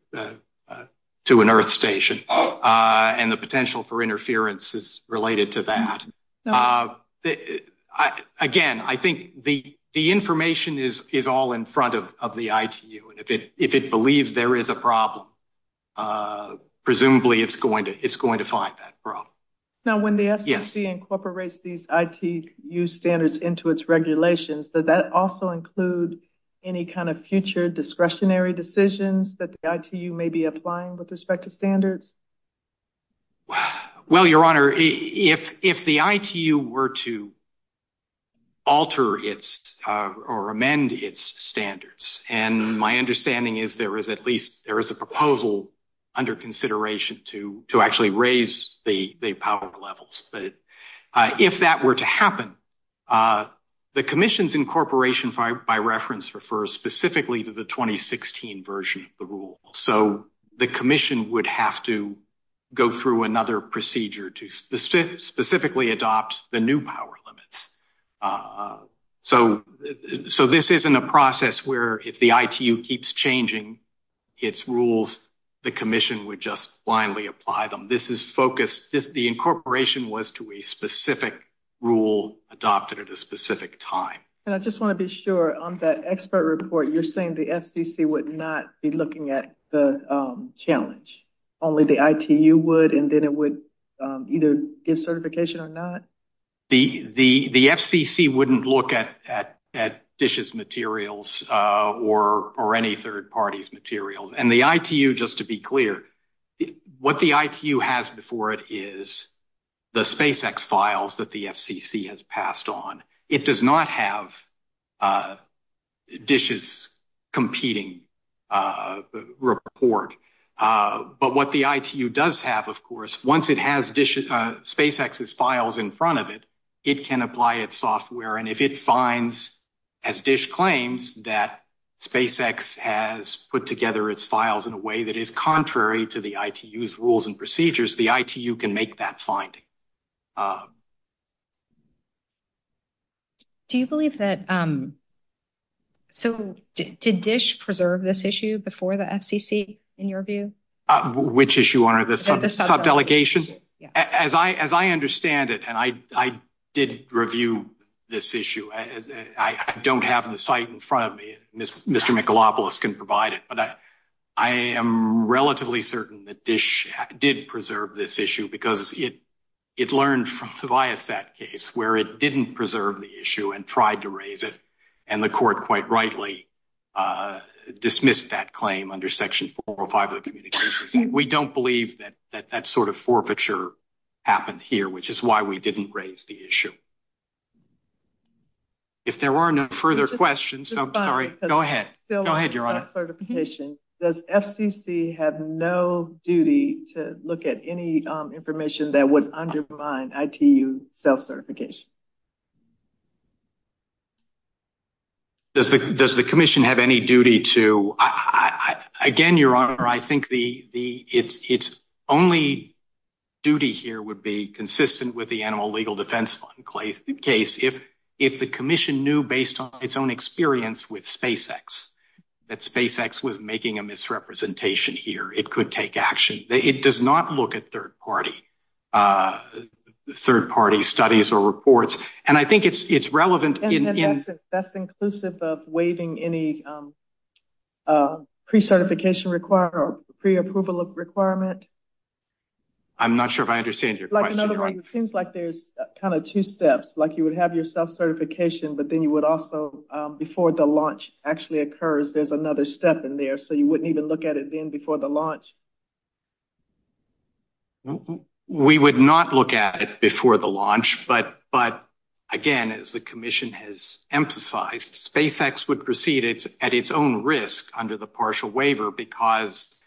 an earth station and the potential for interference is related to that. Again, I think the information is all in front of the ITU. And if it believes there is a problem, presumably it's going to find that problem. Now, when the SEC incorporates these ITU standards into its regulations, does that also include any kind of future discretionary decisions that the ITU may be applying with respect to standards? Well, Your Honor, if the ITU were to under consideration to actually raise the power levels, if that were to happen, the commission's incorporation, by reference, refers specifically to the 2016 version of the rule. So the commission would have to go through another procedure to specifically adopt the new limits. So this isn't a process where if the ITU keeps changing its rules, the commission would just blindly apply them. This is focused, the incorporation was to a specific rule adopted at a specific time. And I just want to be sure, on that expert report, you're saying the SEC would not be looking at the challenge, only the ITU would, and then it would either get certification or not? The FCC wouldn't look at DISH's materials or any third party's materials. And the ITU, just to be clear, what the ITU has before it is the SpaceX files that the FCC has passed on. It does not have DISH's competing report. But what the ITU does have, of course, once it has SpaceX's files in front of it, it can apply its software. And if it finds, as DISH claims, that SpaceX has put together its files in a way that is contrary to the ITU's rules and procedures, the ITU can make that finding. Do you believe that... So did DISH preserve this issue before the FCC, in your view? Which issue, the sub-delegations? As I understand it, and I did review this issue, I don't have the site in front of me, Mr. Michelopoulos can provide it, but I am relatively certain that DISH did preserve this issue because it learned from Tobias that case where it didn't preserve the issue and tried to raise it. And the court quite rightly dismissed that claim under Section 405 of the Communications Act. We don't believe that that sort of forfeiture happened here, which is why we didn't raise the issue. If there are no further questions, I'm sorry. Go ahead. Go ahead, Your Honor. Does FCC have no duty to look at any information that would undermine ITU self-certification? Does the Commission have any duty to... Again, Your Honor, I think its only duty here would be consistent with the Animal Legal Defense Fund case. If the Commission knew based on its own experience with SpaceX, that SpaceX was making a misrepresentation here, it could take action. It does not look at third-party studies or reports. And I think it's relevant... That's inclusive of waiving any pre-certification requirement or pre-approval of requirement? I'm not sure if I understand your question. It seems like there's kind of two steps, like you would have your self-certification, but then you would also, before the launch actually occurs, there's another step in there, so you wouldn't even look at it then before the launch. We would not look at it before the launch, but again, as the Commission has emphasized, SpaceX would proceed at its own risk under the partial waiver because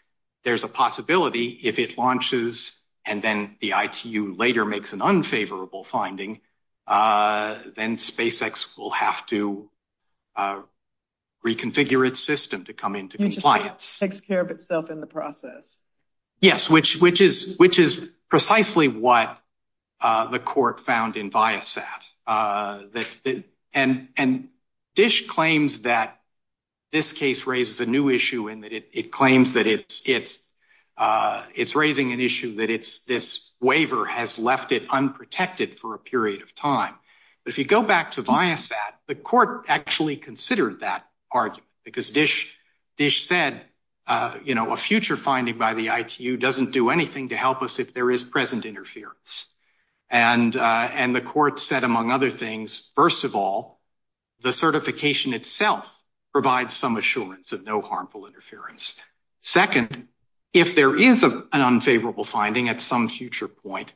there's a possibility if it launches and then the ITU later makes an unfavorable finding, then SpaceX will have to reconfigure its system to come into compliance. It takes care of itself in the process. Yes, which is precisely what the court found in Viasat. And Dish claims that this case raises a new issue in that it claims that it's raising an issue that this waiver has left it unprotected for a period of time. If you go back to Viasat, the court actually considered that argument because Dish said, you know, a future finding by the ITU doesn't do anything to help us if there is present interference. And the court said, among other things, first of all, the certification itself provides some assurance of no harmful interference. Second, if there is an unfavorable finding at some future point,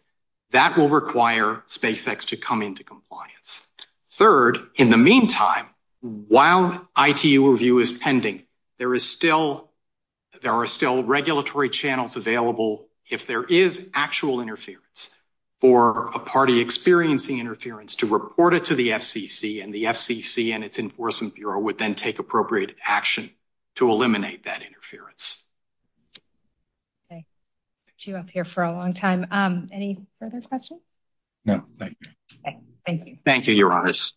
that will require SpaceX to come into compliance. Third, in the meantime, while ITU review is pending, there are still regulatory channels available if there is actual interference for a party experiencing interference to report it to the FCC and the FCC and its Enforcement Bureau would then take appropriate action to eliminate that for a long time. Any further questions? No, thank you. Thank you. Thank you. Your honors.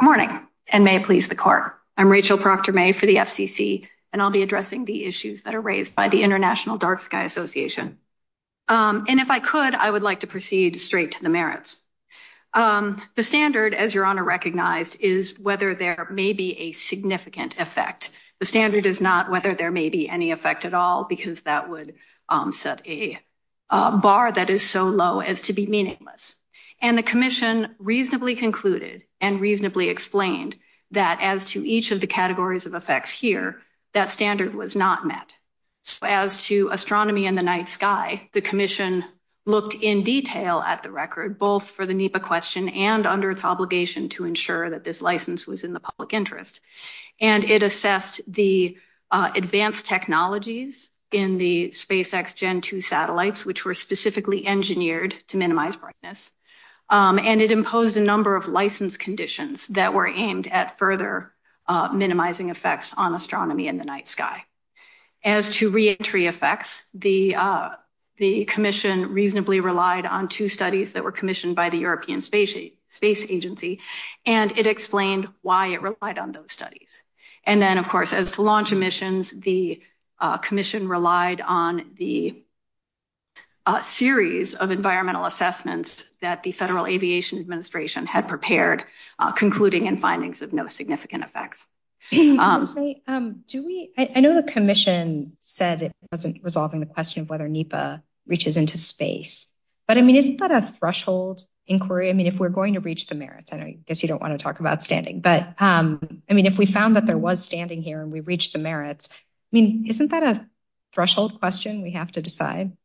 Good morning and may it please the court. I'm Rachel Proctor-May for the FCC and I'll be addressing the issues that are raised by the International Dark Sky Association. And if I could, I would like to proceed straight to the merits. The standard as your honor recognized is whether there may be a significant effect. The standard is not whether there may be any effect at all, because that would set a bar that is so low as to be meaningless. And the commission reasonably concluded and reasonably explained that as to each of the categories of effects here, that standard was not met. As to astronomy in the night sky, the commission looked in detail at the record, both for the NEPA question and under its obligation to ensure that this license was in the public interest. And it assessed the advanced technologies in the SpaceX Gen 2 satellites, which were specifically engineered to minimize brightness. And it imposed a number of license conditions that were aimed at further minimizing effects on astronomy in the night sky. As to re-entry effects, the commission reasonably relied on two studies that were commissioned by the European Space Agency, and it explained why it relied on those studies. And then of course, as to launch emissions, the commission relied on the series of environmental assessments that the Federal Agency conducted. I know the commission said it wasn't resolving the question of whether NEPA reaches into space, but I mean, isn't that a threshold inquiry? I mean, if we're going to reach the merits, I guess you don't want to talk about standing, but I mean, if we found that there was standing here and we reached the merits, I mean, isn't that a threshold question we have to decide?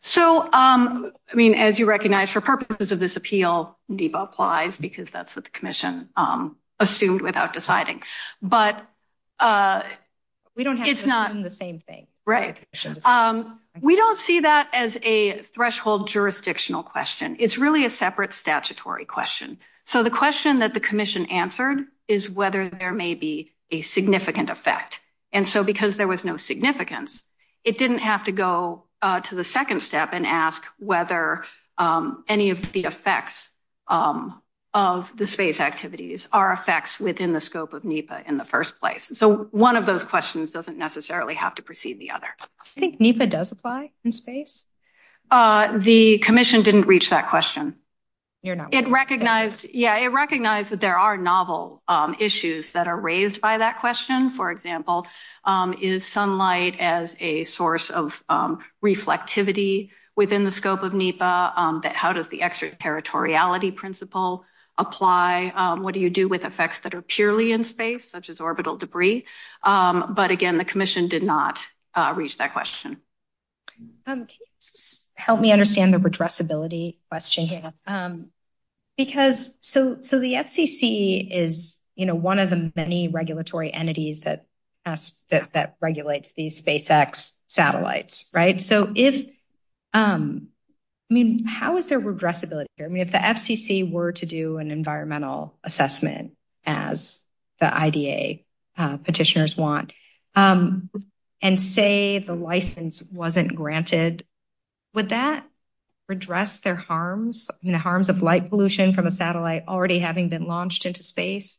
So, I mean, as you recognize for purposes of this appeal, NEPA applies because that's what the commission assumed without deciding. But we don't see that as a threshold jurisdictional question. It's really a separate statutory question. So the question that the commission answered is whether there may be a significant effect. And so, because there was no significance, it didn't have to go to the second step and ask whether any of the effects of the space activities are effects within the scope of NEPA in the first place. So one of those questions doesn't necessarily have to precede the other. Do you think NEPA does apply in space? The commission didn't reach that question. It recognized that there are novel issues that are a source of reflectivity within the scope of NEPA, that how does the extraterritoriality principle apply? What do you do with effects that are purely in space, such as orbital debris? But again, the commission did not reach that question. Can you just help me understand the redressability question here? So the FCC is one of the many satellites, right? So if, I mean, how is there redressability here? I mean, if the FCC were to do an environmental assessment, as the IDA petitioners want, and say the license wasn't granted, would that redress their harms, you know, harms of light pollution from a satellite already having been launched into space?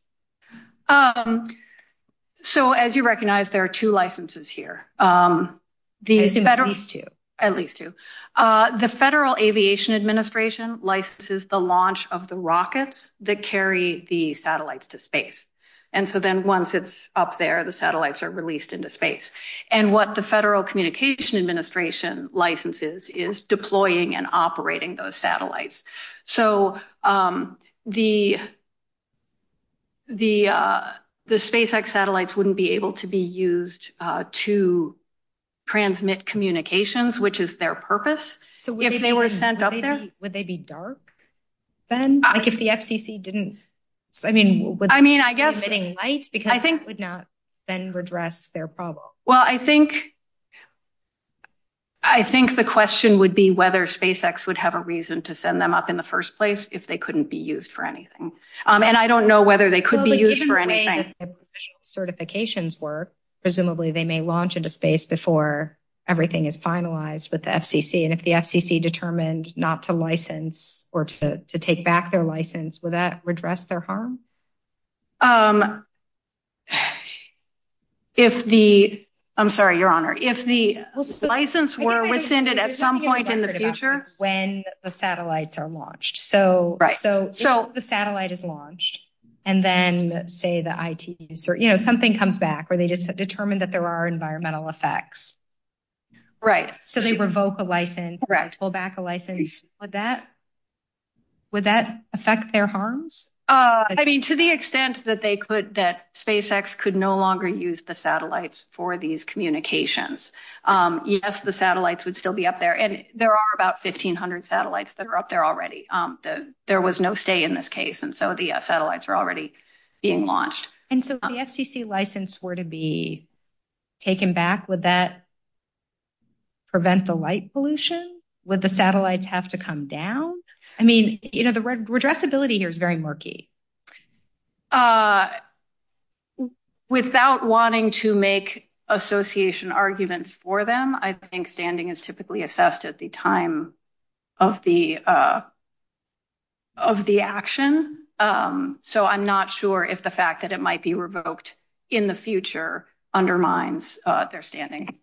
So as you recognize, there are two licenses here. At least two. The Federal Aviation Administration licenses the launch of the rockets that carry the satellites to space. And so then once it's up there, the satellites are released into space. And what the Federal Communication Administration licenses is deploying and operating those transmit communications, which is their purpose. So if they were sent up there, would they be dark? Like if the FCC didn't, I mean, I mean, I guess, I think would not then redress their problem. Well, I think, I think the question would be whether SpaceX would have a reason to send them up in the first place if they couldn't be used for anything. And I don't know whether they everything is finalized with the FCC. And if the FCC determined not to license, or to take back their license, would that redress their harm? If the, I'm sorry, Your Honor, if the license were rescinded at some point in the future, when the satellites are launched. So, right. So, so the satellite is launched. And then say the IT, you know, something comes back, or they just determined that there are environmental effects. Right. So they revoke a license, pull back a license. Would that, would that affect their harms? I mean, to the extent that they could, that SpaceX could no longer use the satellites for these communications. Yes, the satellites would still be up there. And there are about 1500 satellites that are up there already. There was no stay in this case. And so if the FCC license were to be taken back, would that prevent the light pollution? Would the satellites have to come down? I mean, you know, the redressability here is very murky. Without wanting to make association arguments for them, I think standing is typically assessed at the time of the, of the action. So I'm not sure if the fact that it might be revoked in the future undermines their standing.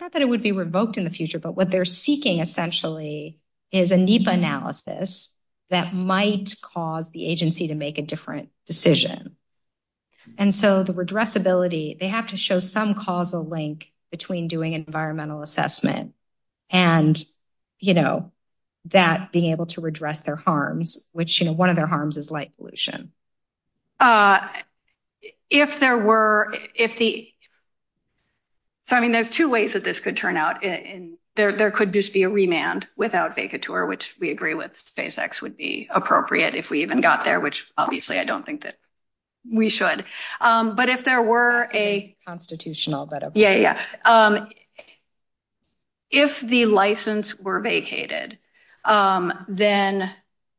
Not that it would be revoked in the future, but what they're seeking essentially is a NEPA analysis that might cause the agency to make a different decision. And so the redressability, they have to show some causal link between doing environmental assessment and, you know, that being able to redress their harms, which, you know, one of their harms is light pollution. If there were, if the, I mean, there's two ways that this could turn out. There could just be a remand without vacatur, which we agree with SpaceX would be appropriate if we even got there, which obviously I don't think that we should. But if if the license were vacated, then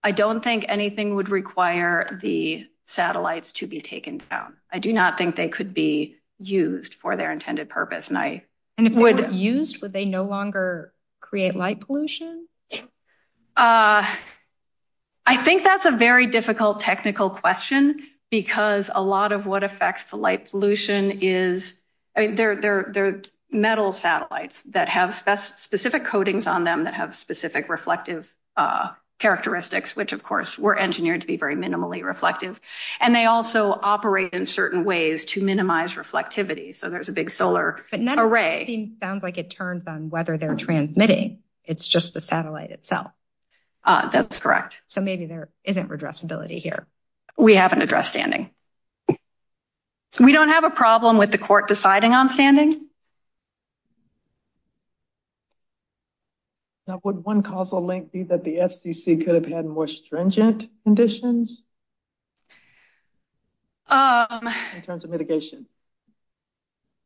I don't think anything would require the satellites to be taken down. I do not think they could be used for their intended purpose. And if they were used, would they no longer create light pollution? I think that's a very difficult technical question because a lot of what affects the light pollution is they're metal satellites that have specific coatings on them that have specific reflective characteristics, which of course were engineered to be very minimally reflective. And they also operate in certain ways to minimize reflectivity. So there's a big solar array. It sounds like it turns on whether they're transmitting. It's just the satellite itself. That's correct. So maybe there isn't redressability here. We haven't addressed standing. We don't have a problem with the court deciding on standing. Now would one causal link be that the FCC could have had more stringent conditions? In terms of mitigation?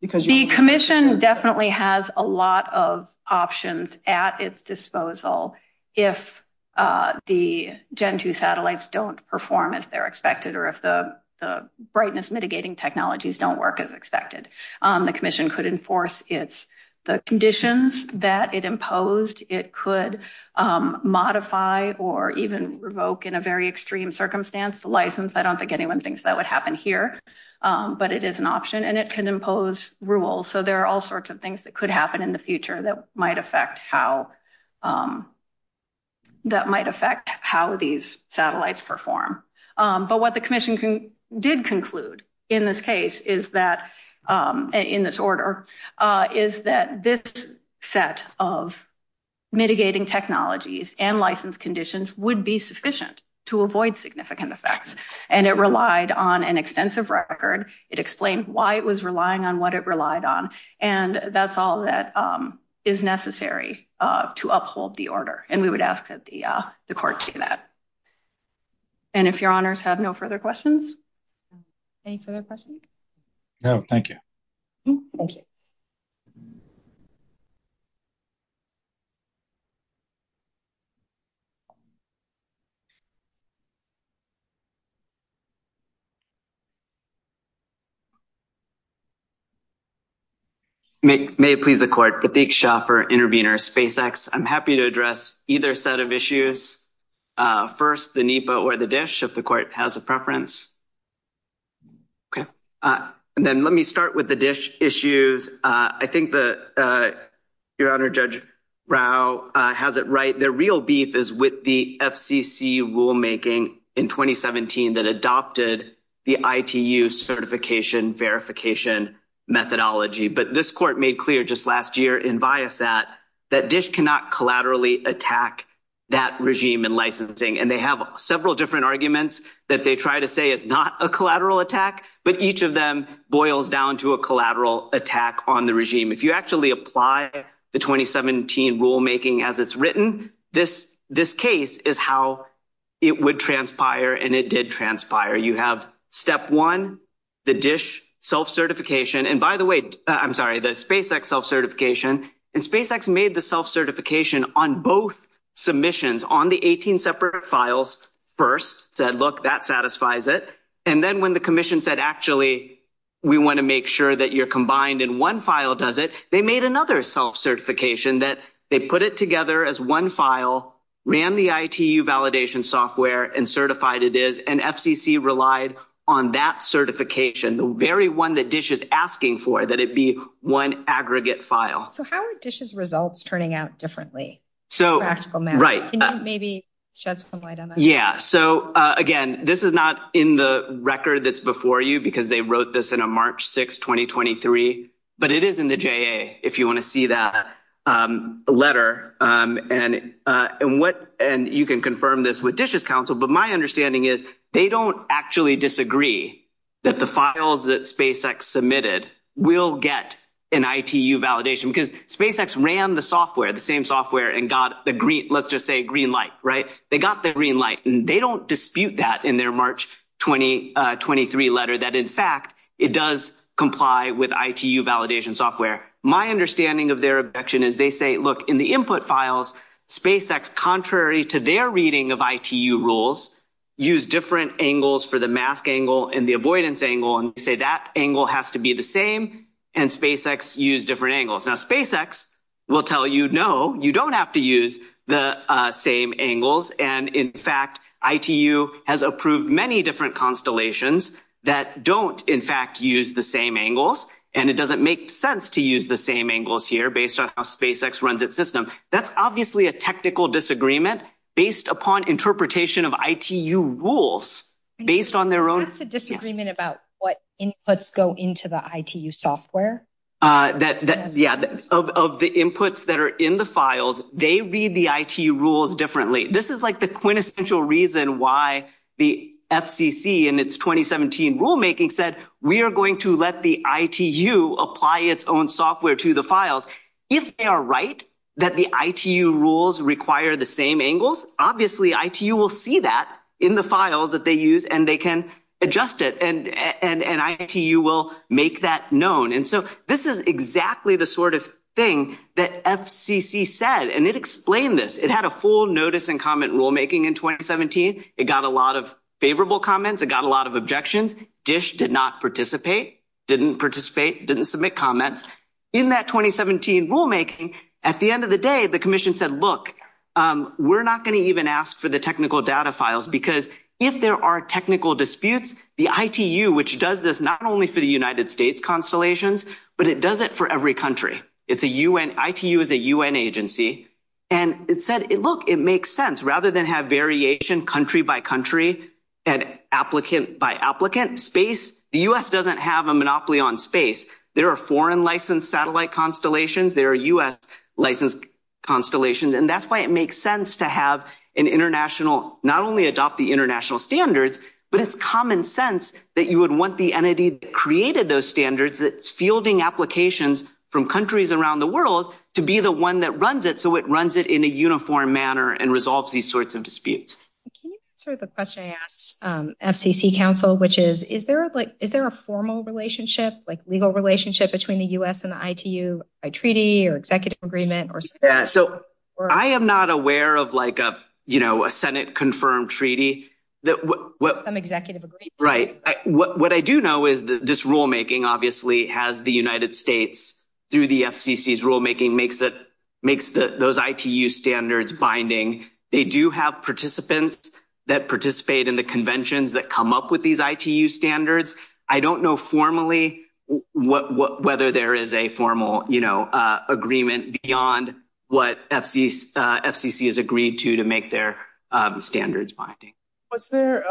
The commission definitely has a lot of options at its disposal. If the Gen 2 satellites don't perform as they're expected or if the brightness mitigating technologies don't work as expected, the commission could enforce the conditions that it imposed. It could modify or even revoke in a very extreme circumstance the license. I don't think anyone thinks that would happen here, but it is an option and it can impose rules. So there are all sorts of things that could happen in the future that might affect how that might affect how these satellites perform. But what the commission did conclude in this case is that, in this order, is that this set of mitigating technologies and license conditions would be sufficient to avoid significant effects. And it relied on an extensive record. It explained why it was relying on what it relied on. And that's all that is necessary to uphold the order. And we would ask that the court see that. And if your honors have no further questions? Any further questions? No, thank you. Thank you. May it please the court. I'm happy to address either set of issues. First, the NEPA or the DISH, if the court has a preference. Okay. And then let me start with the DISH issues. I think that your honor, Judge Rao has it right. The real beef is with the FCC rulemaking in 2017 that adopted the ITU certification verification methodology. But this court made clear just last year in BIAFAT that DISH cannot collaterally attack that regime and licensing. And they have several different arguments that they try to say it's not a collateral attack, but each of them boils down to a collateral attack on the regime. If you actually apply the 2017 rulemaking as it's you have step one, the DISH self-certification. And by the way, I'm sorry, the SpaceX self-certification and SpaceX made the self-certification on both submissions on the 18 separate files. First said, look, that satisfies it. And then when the commission said, actually, we want to make sure that you're combined in one file, does it? They made another self-certification that they put it together as one file, ran the ITU validation software and certified it is an FCC relied on that certification. The very one that DISH is asking for that it be one aggregate file. So how are DISH's results turning out differently? So, right. Maybe judge, yeah. So again, this is not in the record that's before you, because they wrote this in a March 6th, 2023, but it is in the JA, if you want to see that letter and what, and you can confirm this with DISH's counsel. But my understanding is they don't actually disagree that the files that SpaceX submitted will get an ITU validation because SpaceX ran the software, the same software and got the green, let's just say green light, right? They got the green light and they don't dispute that in their March 2023 letter that, in fact, it does comply with ITU validation software. My understanding of their objection is they say, look in the input files, SpaceX, contrary to their reading of ITU rules, use different angles for the mask angle and the avoidance angle and say that angle has to be the same and SpaceX use different angles. Now, SpaceX will tell you, no, you don't have to use the same angles. And in fact, ITU has approved many different constellations that don't, in fact, use the same angles. And it doesn't make sense to use the same angles here based on how SpaceX runs its system. That's obviously a technical disagreement based upon interpretation of ITU rules based on their own. It's a disagreement about what inputs go into the ITU software. Yeah. Of the inputs that are in the files, they read the ITU rules differently. This is like the quintessential reason why the FCC in its 2017 rulemaking said, we are going to let the ITU apply its own software to the files. If they are right that the ITU rules require the same angles, obviously ITU will see that in the file that they use and they can adjust it and ITU will make that known. And so this is exactly the sort of thing that FCC said, and it explained this. It had a full notice and comment rulemaking in 2017. It got a lot of favorable comments. It got a lot of objections. DISH did not participate, didn't participate, didn't submit comments. In that 2017 rulemaking, at the end of the day, the commission said, look, we're not going to even ask for the technical data files because if there are technical disputes, the ITU, which does this not only for the United States constellations, but it does it for every country. It's a UN, ITU is a by applicant space. The U.S. doesn't have a monopoly on space. There are foreign licensed satellite constellations. There are U.S. licensed constellations. And that's why it makes sense to have an international, not only adopt the international standards, but it's common sense that you would want the entity that created those standards, that's fielding applications from countries around the world to be the one that runs it. So it runs it in a uniform manner and resolves these sorts of disputes. Can you answer the question I asked FCC counsel, which is, is there like, is there a formal relationship, like legal relationship between the U.S. and the ITU, a treaty or executive agreement? Yeah, so I am not aware of like a, you know, a Senate confirmed treaty. Some executive agreement. Right. What I do know is that this rulemaking obviously has the United States through the FCC's rulemaking makes those ITU standards binding. They do have participants that participate in the conventions that come up with these ITU standards. I don't know formally whether there is a formal, you know, agreement beyond what FCC has agreed to to make their standards binding. Was there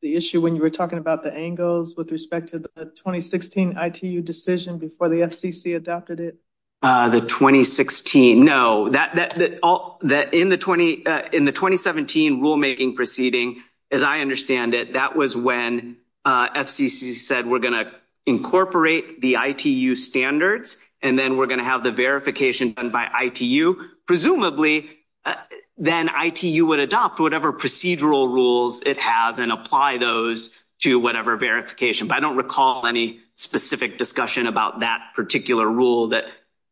the issue when you were talking about the angles with respect to the 2016 ITU decision before the FCC adopted it? The 2016? No. In the 2017 rulemaking proceeding, as I understand it, that was when FCC said we're going to incorporate the ITU standards and then we're going to have the verification done by ITU. Presumably then ITU would adopt whatever procedural rules it has and apply those to whatever verification. But I don't recall any specific discussion about that particular rule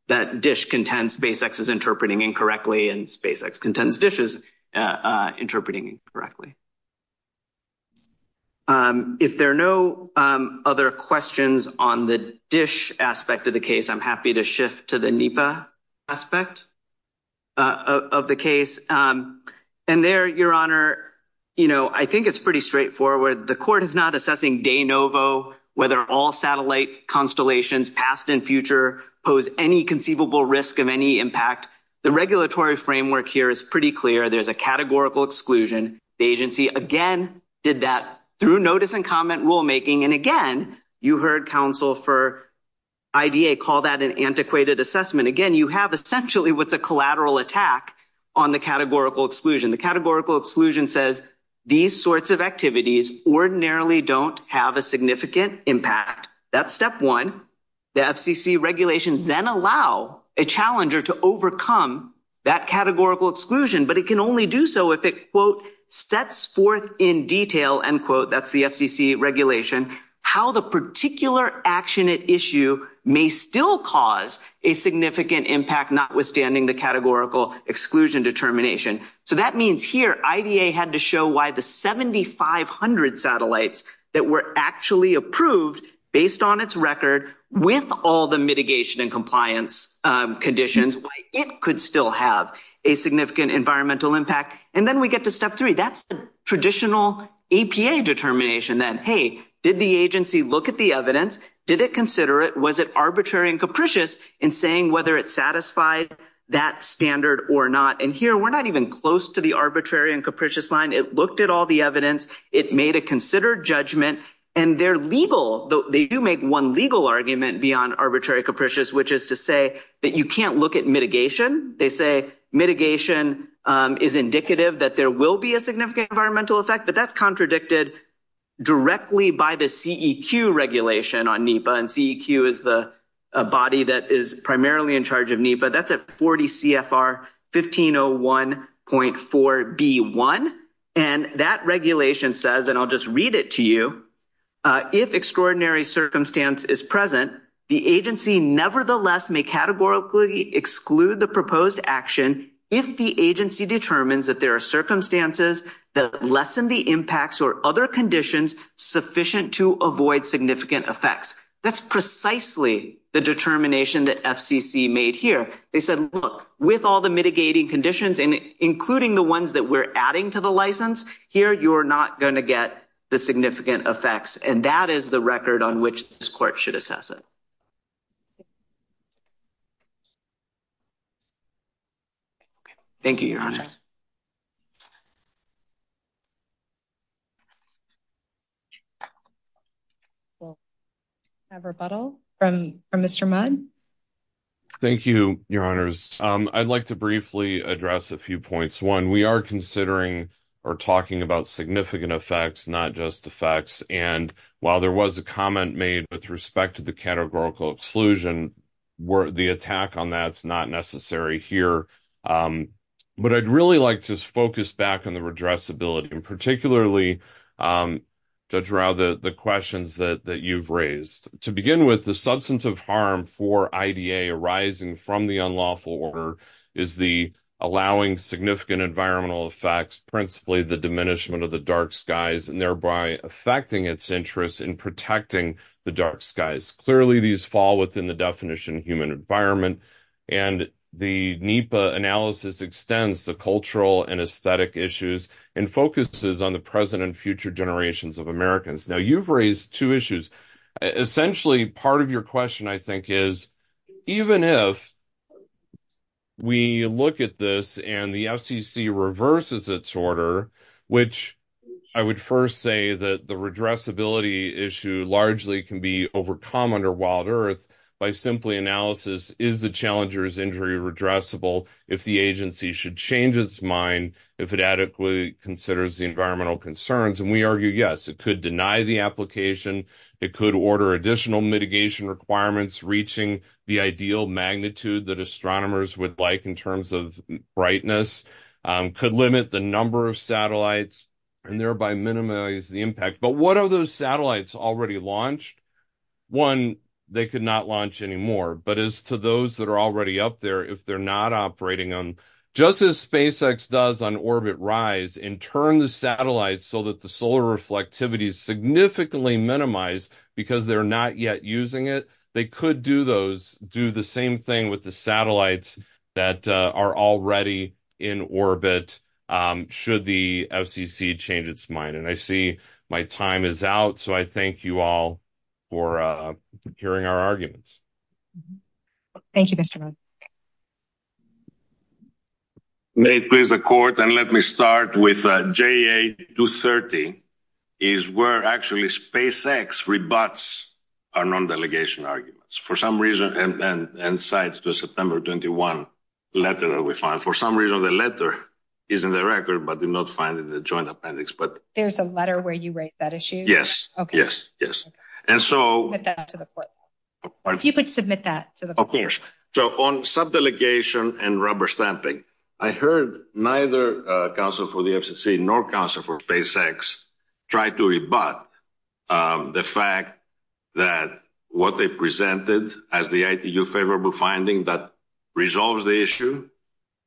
that DISH contends SpaceX is interpreting incorrectly and SpaceX contends DISH is interpreting incorrectly. If there are no other questions on the DISH aspect of the case, I'm happy to shift to the NEPA aspect of the case. And there, Your Honor, you know, I think it's pretty straightforward. The court is not assessing de novo whether all satellite constellations past and future pose any conceivable risk of any impact. The regulatory framework here is pretty clear. There's a categorical exclusion. The agency, again, did that through notice and comment rulemaking. And again, you heard counsel for IDA call that an antiquated assessment. Again, you have essentially what's a collateral attack on the categorical exclusion. The categorical exclusion says these sorts of activities ordinarily don't have a significant impact. That's step one. The FCC regulations then allow a challenger to overcome that categorical exclusion. But it can only do so if it, quote, steps forth in detail, end quote, that's the FCC regulation, how the particular action at issue may still cause a significant impact notwithstanding the categorical exclusion determination. So that means here IDA had to show why the 7,500 satellites that were actually approved based on its record with all the mitigation and compliance conditions, why it could still have a significant environmental impact. And then we get to step three. That's traditional APA determination that, hey, did the agency look at the evidence? Did it consider it? Was it arbitrary and capricious in saying whether it satisfied that standard or not? And here we're not even close to the arbitrary and capricious line. It looked at all the evidence. It made a considered judgment. And they're legal. They do make one legal argument beyond arbitrary capricious, which is to say that you can't look at mitigation. They say mitigation is indicative that there will be a significant environmental effect, but that's contradicted directly by the CEQ regulation on NEPA. And CEQ is the body that is primarily in charge of NEPA. That's at 40 CFR 1501.4B1. And that regulation says, and I'll just read it to you, if extraordinary circumstance is present, the agency nevertheless may categorically exclude the proposed action if the agency determines that there are circumstances that lessen the impacts or other conditions sufficient to avoid significant effects. That's precisely the determination that FCC made here. They said, look, with all the mitigating conditions, including the ones that we're adding to the license, here you are not going to get the significant effects. And that is the record on which this court should assess it. Thank you, Your Honor. I have a rebuttal from Mr. Mudd. Thank you, Your Honors. I'd like to briefly address a few points. One, we are considering or talking about significant effects, not just effects. And while there was a comment made with respect to the categorical exclusion, the attack on that's not necessary here. But I'd really like to focus back on the questions that you've raised. To begin with, the substance of harm for IDA arising from the unlawful order is the allowing significant environmental effects, principally the diminishment of the dark skies, and thereby affecting its interest in protecting the dark skies. Clearly, these fall within the definition of human environment. And the NEPA analysis extends the cultural and aesthetic issues and focuses on the present and future generations of Americans. Now, you've raised two issues. Essentially, part of your question, I think, is even if we look at this and the FCC reverses its order, which I would first say that the redressability issue largely can be overcome under Wild Earth by simply analysis, is the agency should change its mind if it adequately considers the environmental concerns. And we argue, yes, it could deny the application. It could order additional mitigation requirements reaching the ideal magnitude that astronomers would like in terms of brightness, could limit the number of satellites and thereby minimize the impact. But what are those satellites already launched? One, they could not launch anymore. But as to those that are already up there, if they're not operating them, just as SpaceX does on orbit rise and turn the satellites so that the solar reflectivity is significantly minimized because they're not yet using it, they could do those, do the same thing with the satellites that are already in orbit should the FCC change its mind. And I see my time is out. So, I thank you all for hearing our arguments. Thank you, Mr. May, please, the court. And let me start with J.A. 230 is where actually SpaceX rebuts our non-delegation arguments for some reason and then and sides to September 21 letter that we found for some reason, the letter is in the record, but do not find it in the joint appendix. But there's a letter where you write that issue. Yes. Yes. Yes. And so you could submit that. Of course. So on some delegation and rubber stamping, I heard neither counsel for the FCC nor counsel for SpaceX tried to rebut the fact that what they presented as the favorable finding that resolves the issue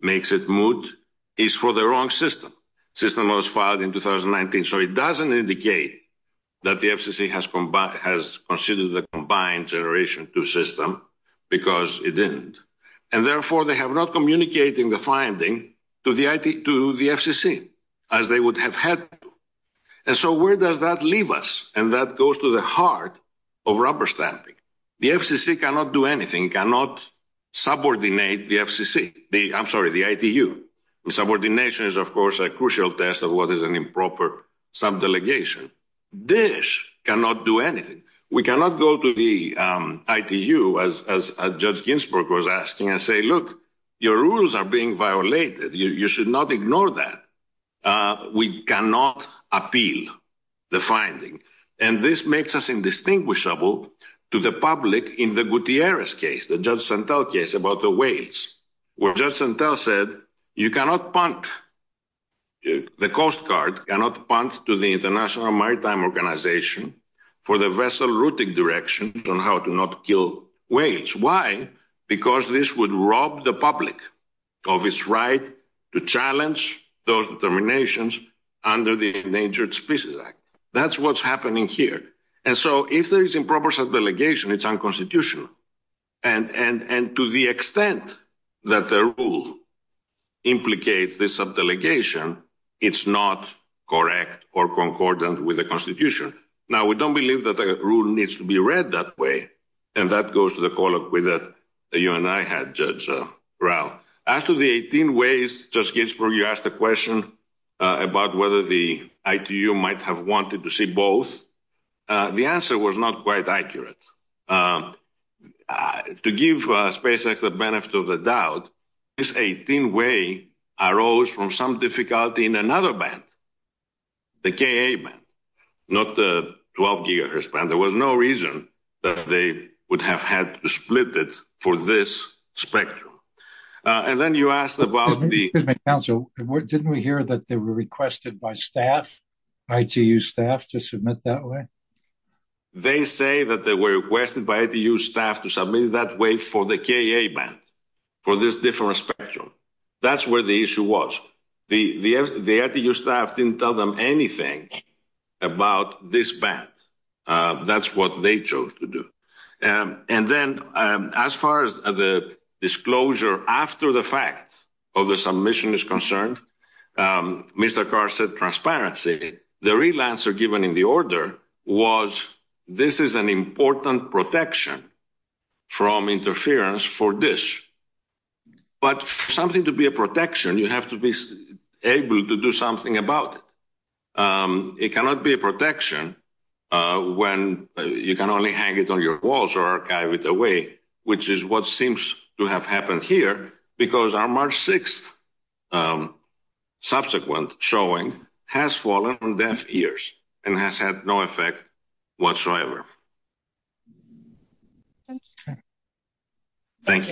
makes it moot is for the wrong system. System was filed in 2019. So it doesn't indicate that the FCC has combat has considered the combined generation two system because it didn't. And therefore, they have not communicating the finding to the to the FCC as they would have had. And so where does that leave us? And that goes to the heart of rubber stamping. The FCC cannot do anything, cannot subordinate the FCC. I'm sorry, the ITU subordination is, of course, a crucial test of what is an improper subdelegation. Dish cannot do anything. We cannot go to the ITU as Judge Ginsburg was asking and say, look, your rules are being violated. You should not ignore that. We cannot appeal the finding. And this makes us indistinguishable to the public in the Gutierrez case, the Judge Santel case about the weights where Judge Santel said you cannot punt. The Coast Guard cannot punt to the International Maritime Organization for the vessel routing direction on how to not kill weights. Why? Because this would rob the public of its right to challenge those determinations under the Endangered Species Act. That's what's happening here. And so if there is improper subdelegation, it's unconstitutional. And to the extent that the rule implicates this subdelegation, it's not correct or concordant with the Constitution. Now, we don't believe that the rule needs to be read that way. And that goes to the colloquy that you and I had, Judge Rao. After the 18 ways, Judge Ginsburg, you asked the question about whether the ITU might have wanted to see both. The answer was not quite accurate. To give SpaceX the benefit of the doubt, this 18-way arose from some difficulty in another band, the KA band, not the 12-gigahertz band. There was no reason that they would have had to split it for this spectrum. And then you asked about the... Didn't we hear that they were requested by staff, ITU staff, to submit that way? They say that they were requested by ITU staff to submit that way for the KA band, for this different spectrum. That's where the issue was. The ITU staff didn't tell them anything about this band. That's what they chose to do. And then as far as the disclosure after the fact, of the submission is concerned, Mr. Carr said transparently, the real answer given in the order was this is an important protection from interference for this. But for something to be a protection, you have to be able to do something about it. It cannot be a protection when you can only hang it on your walls or archive it away, which is what seems to have happened here, because our March 6th subsequent showing has fallen on deaf ears and has had no effect whatsoever. Thank you.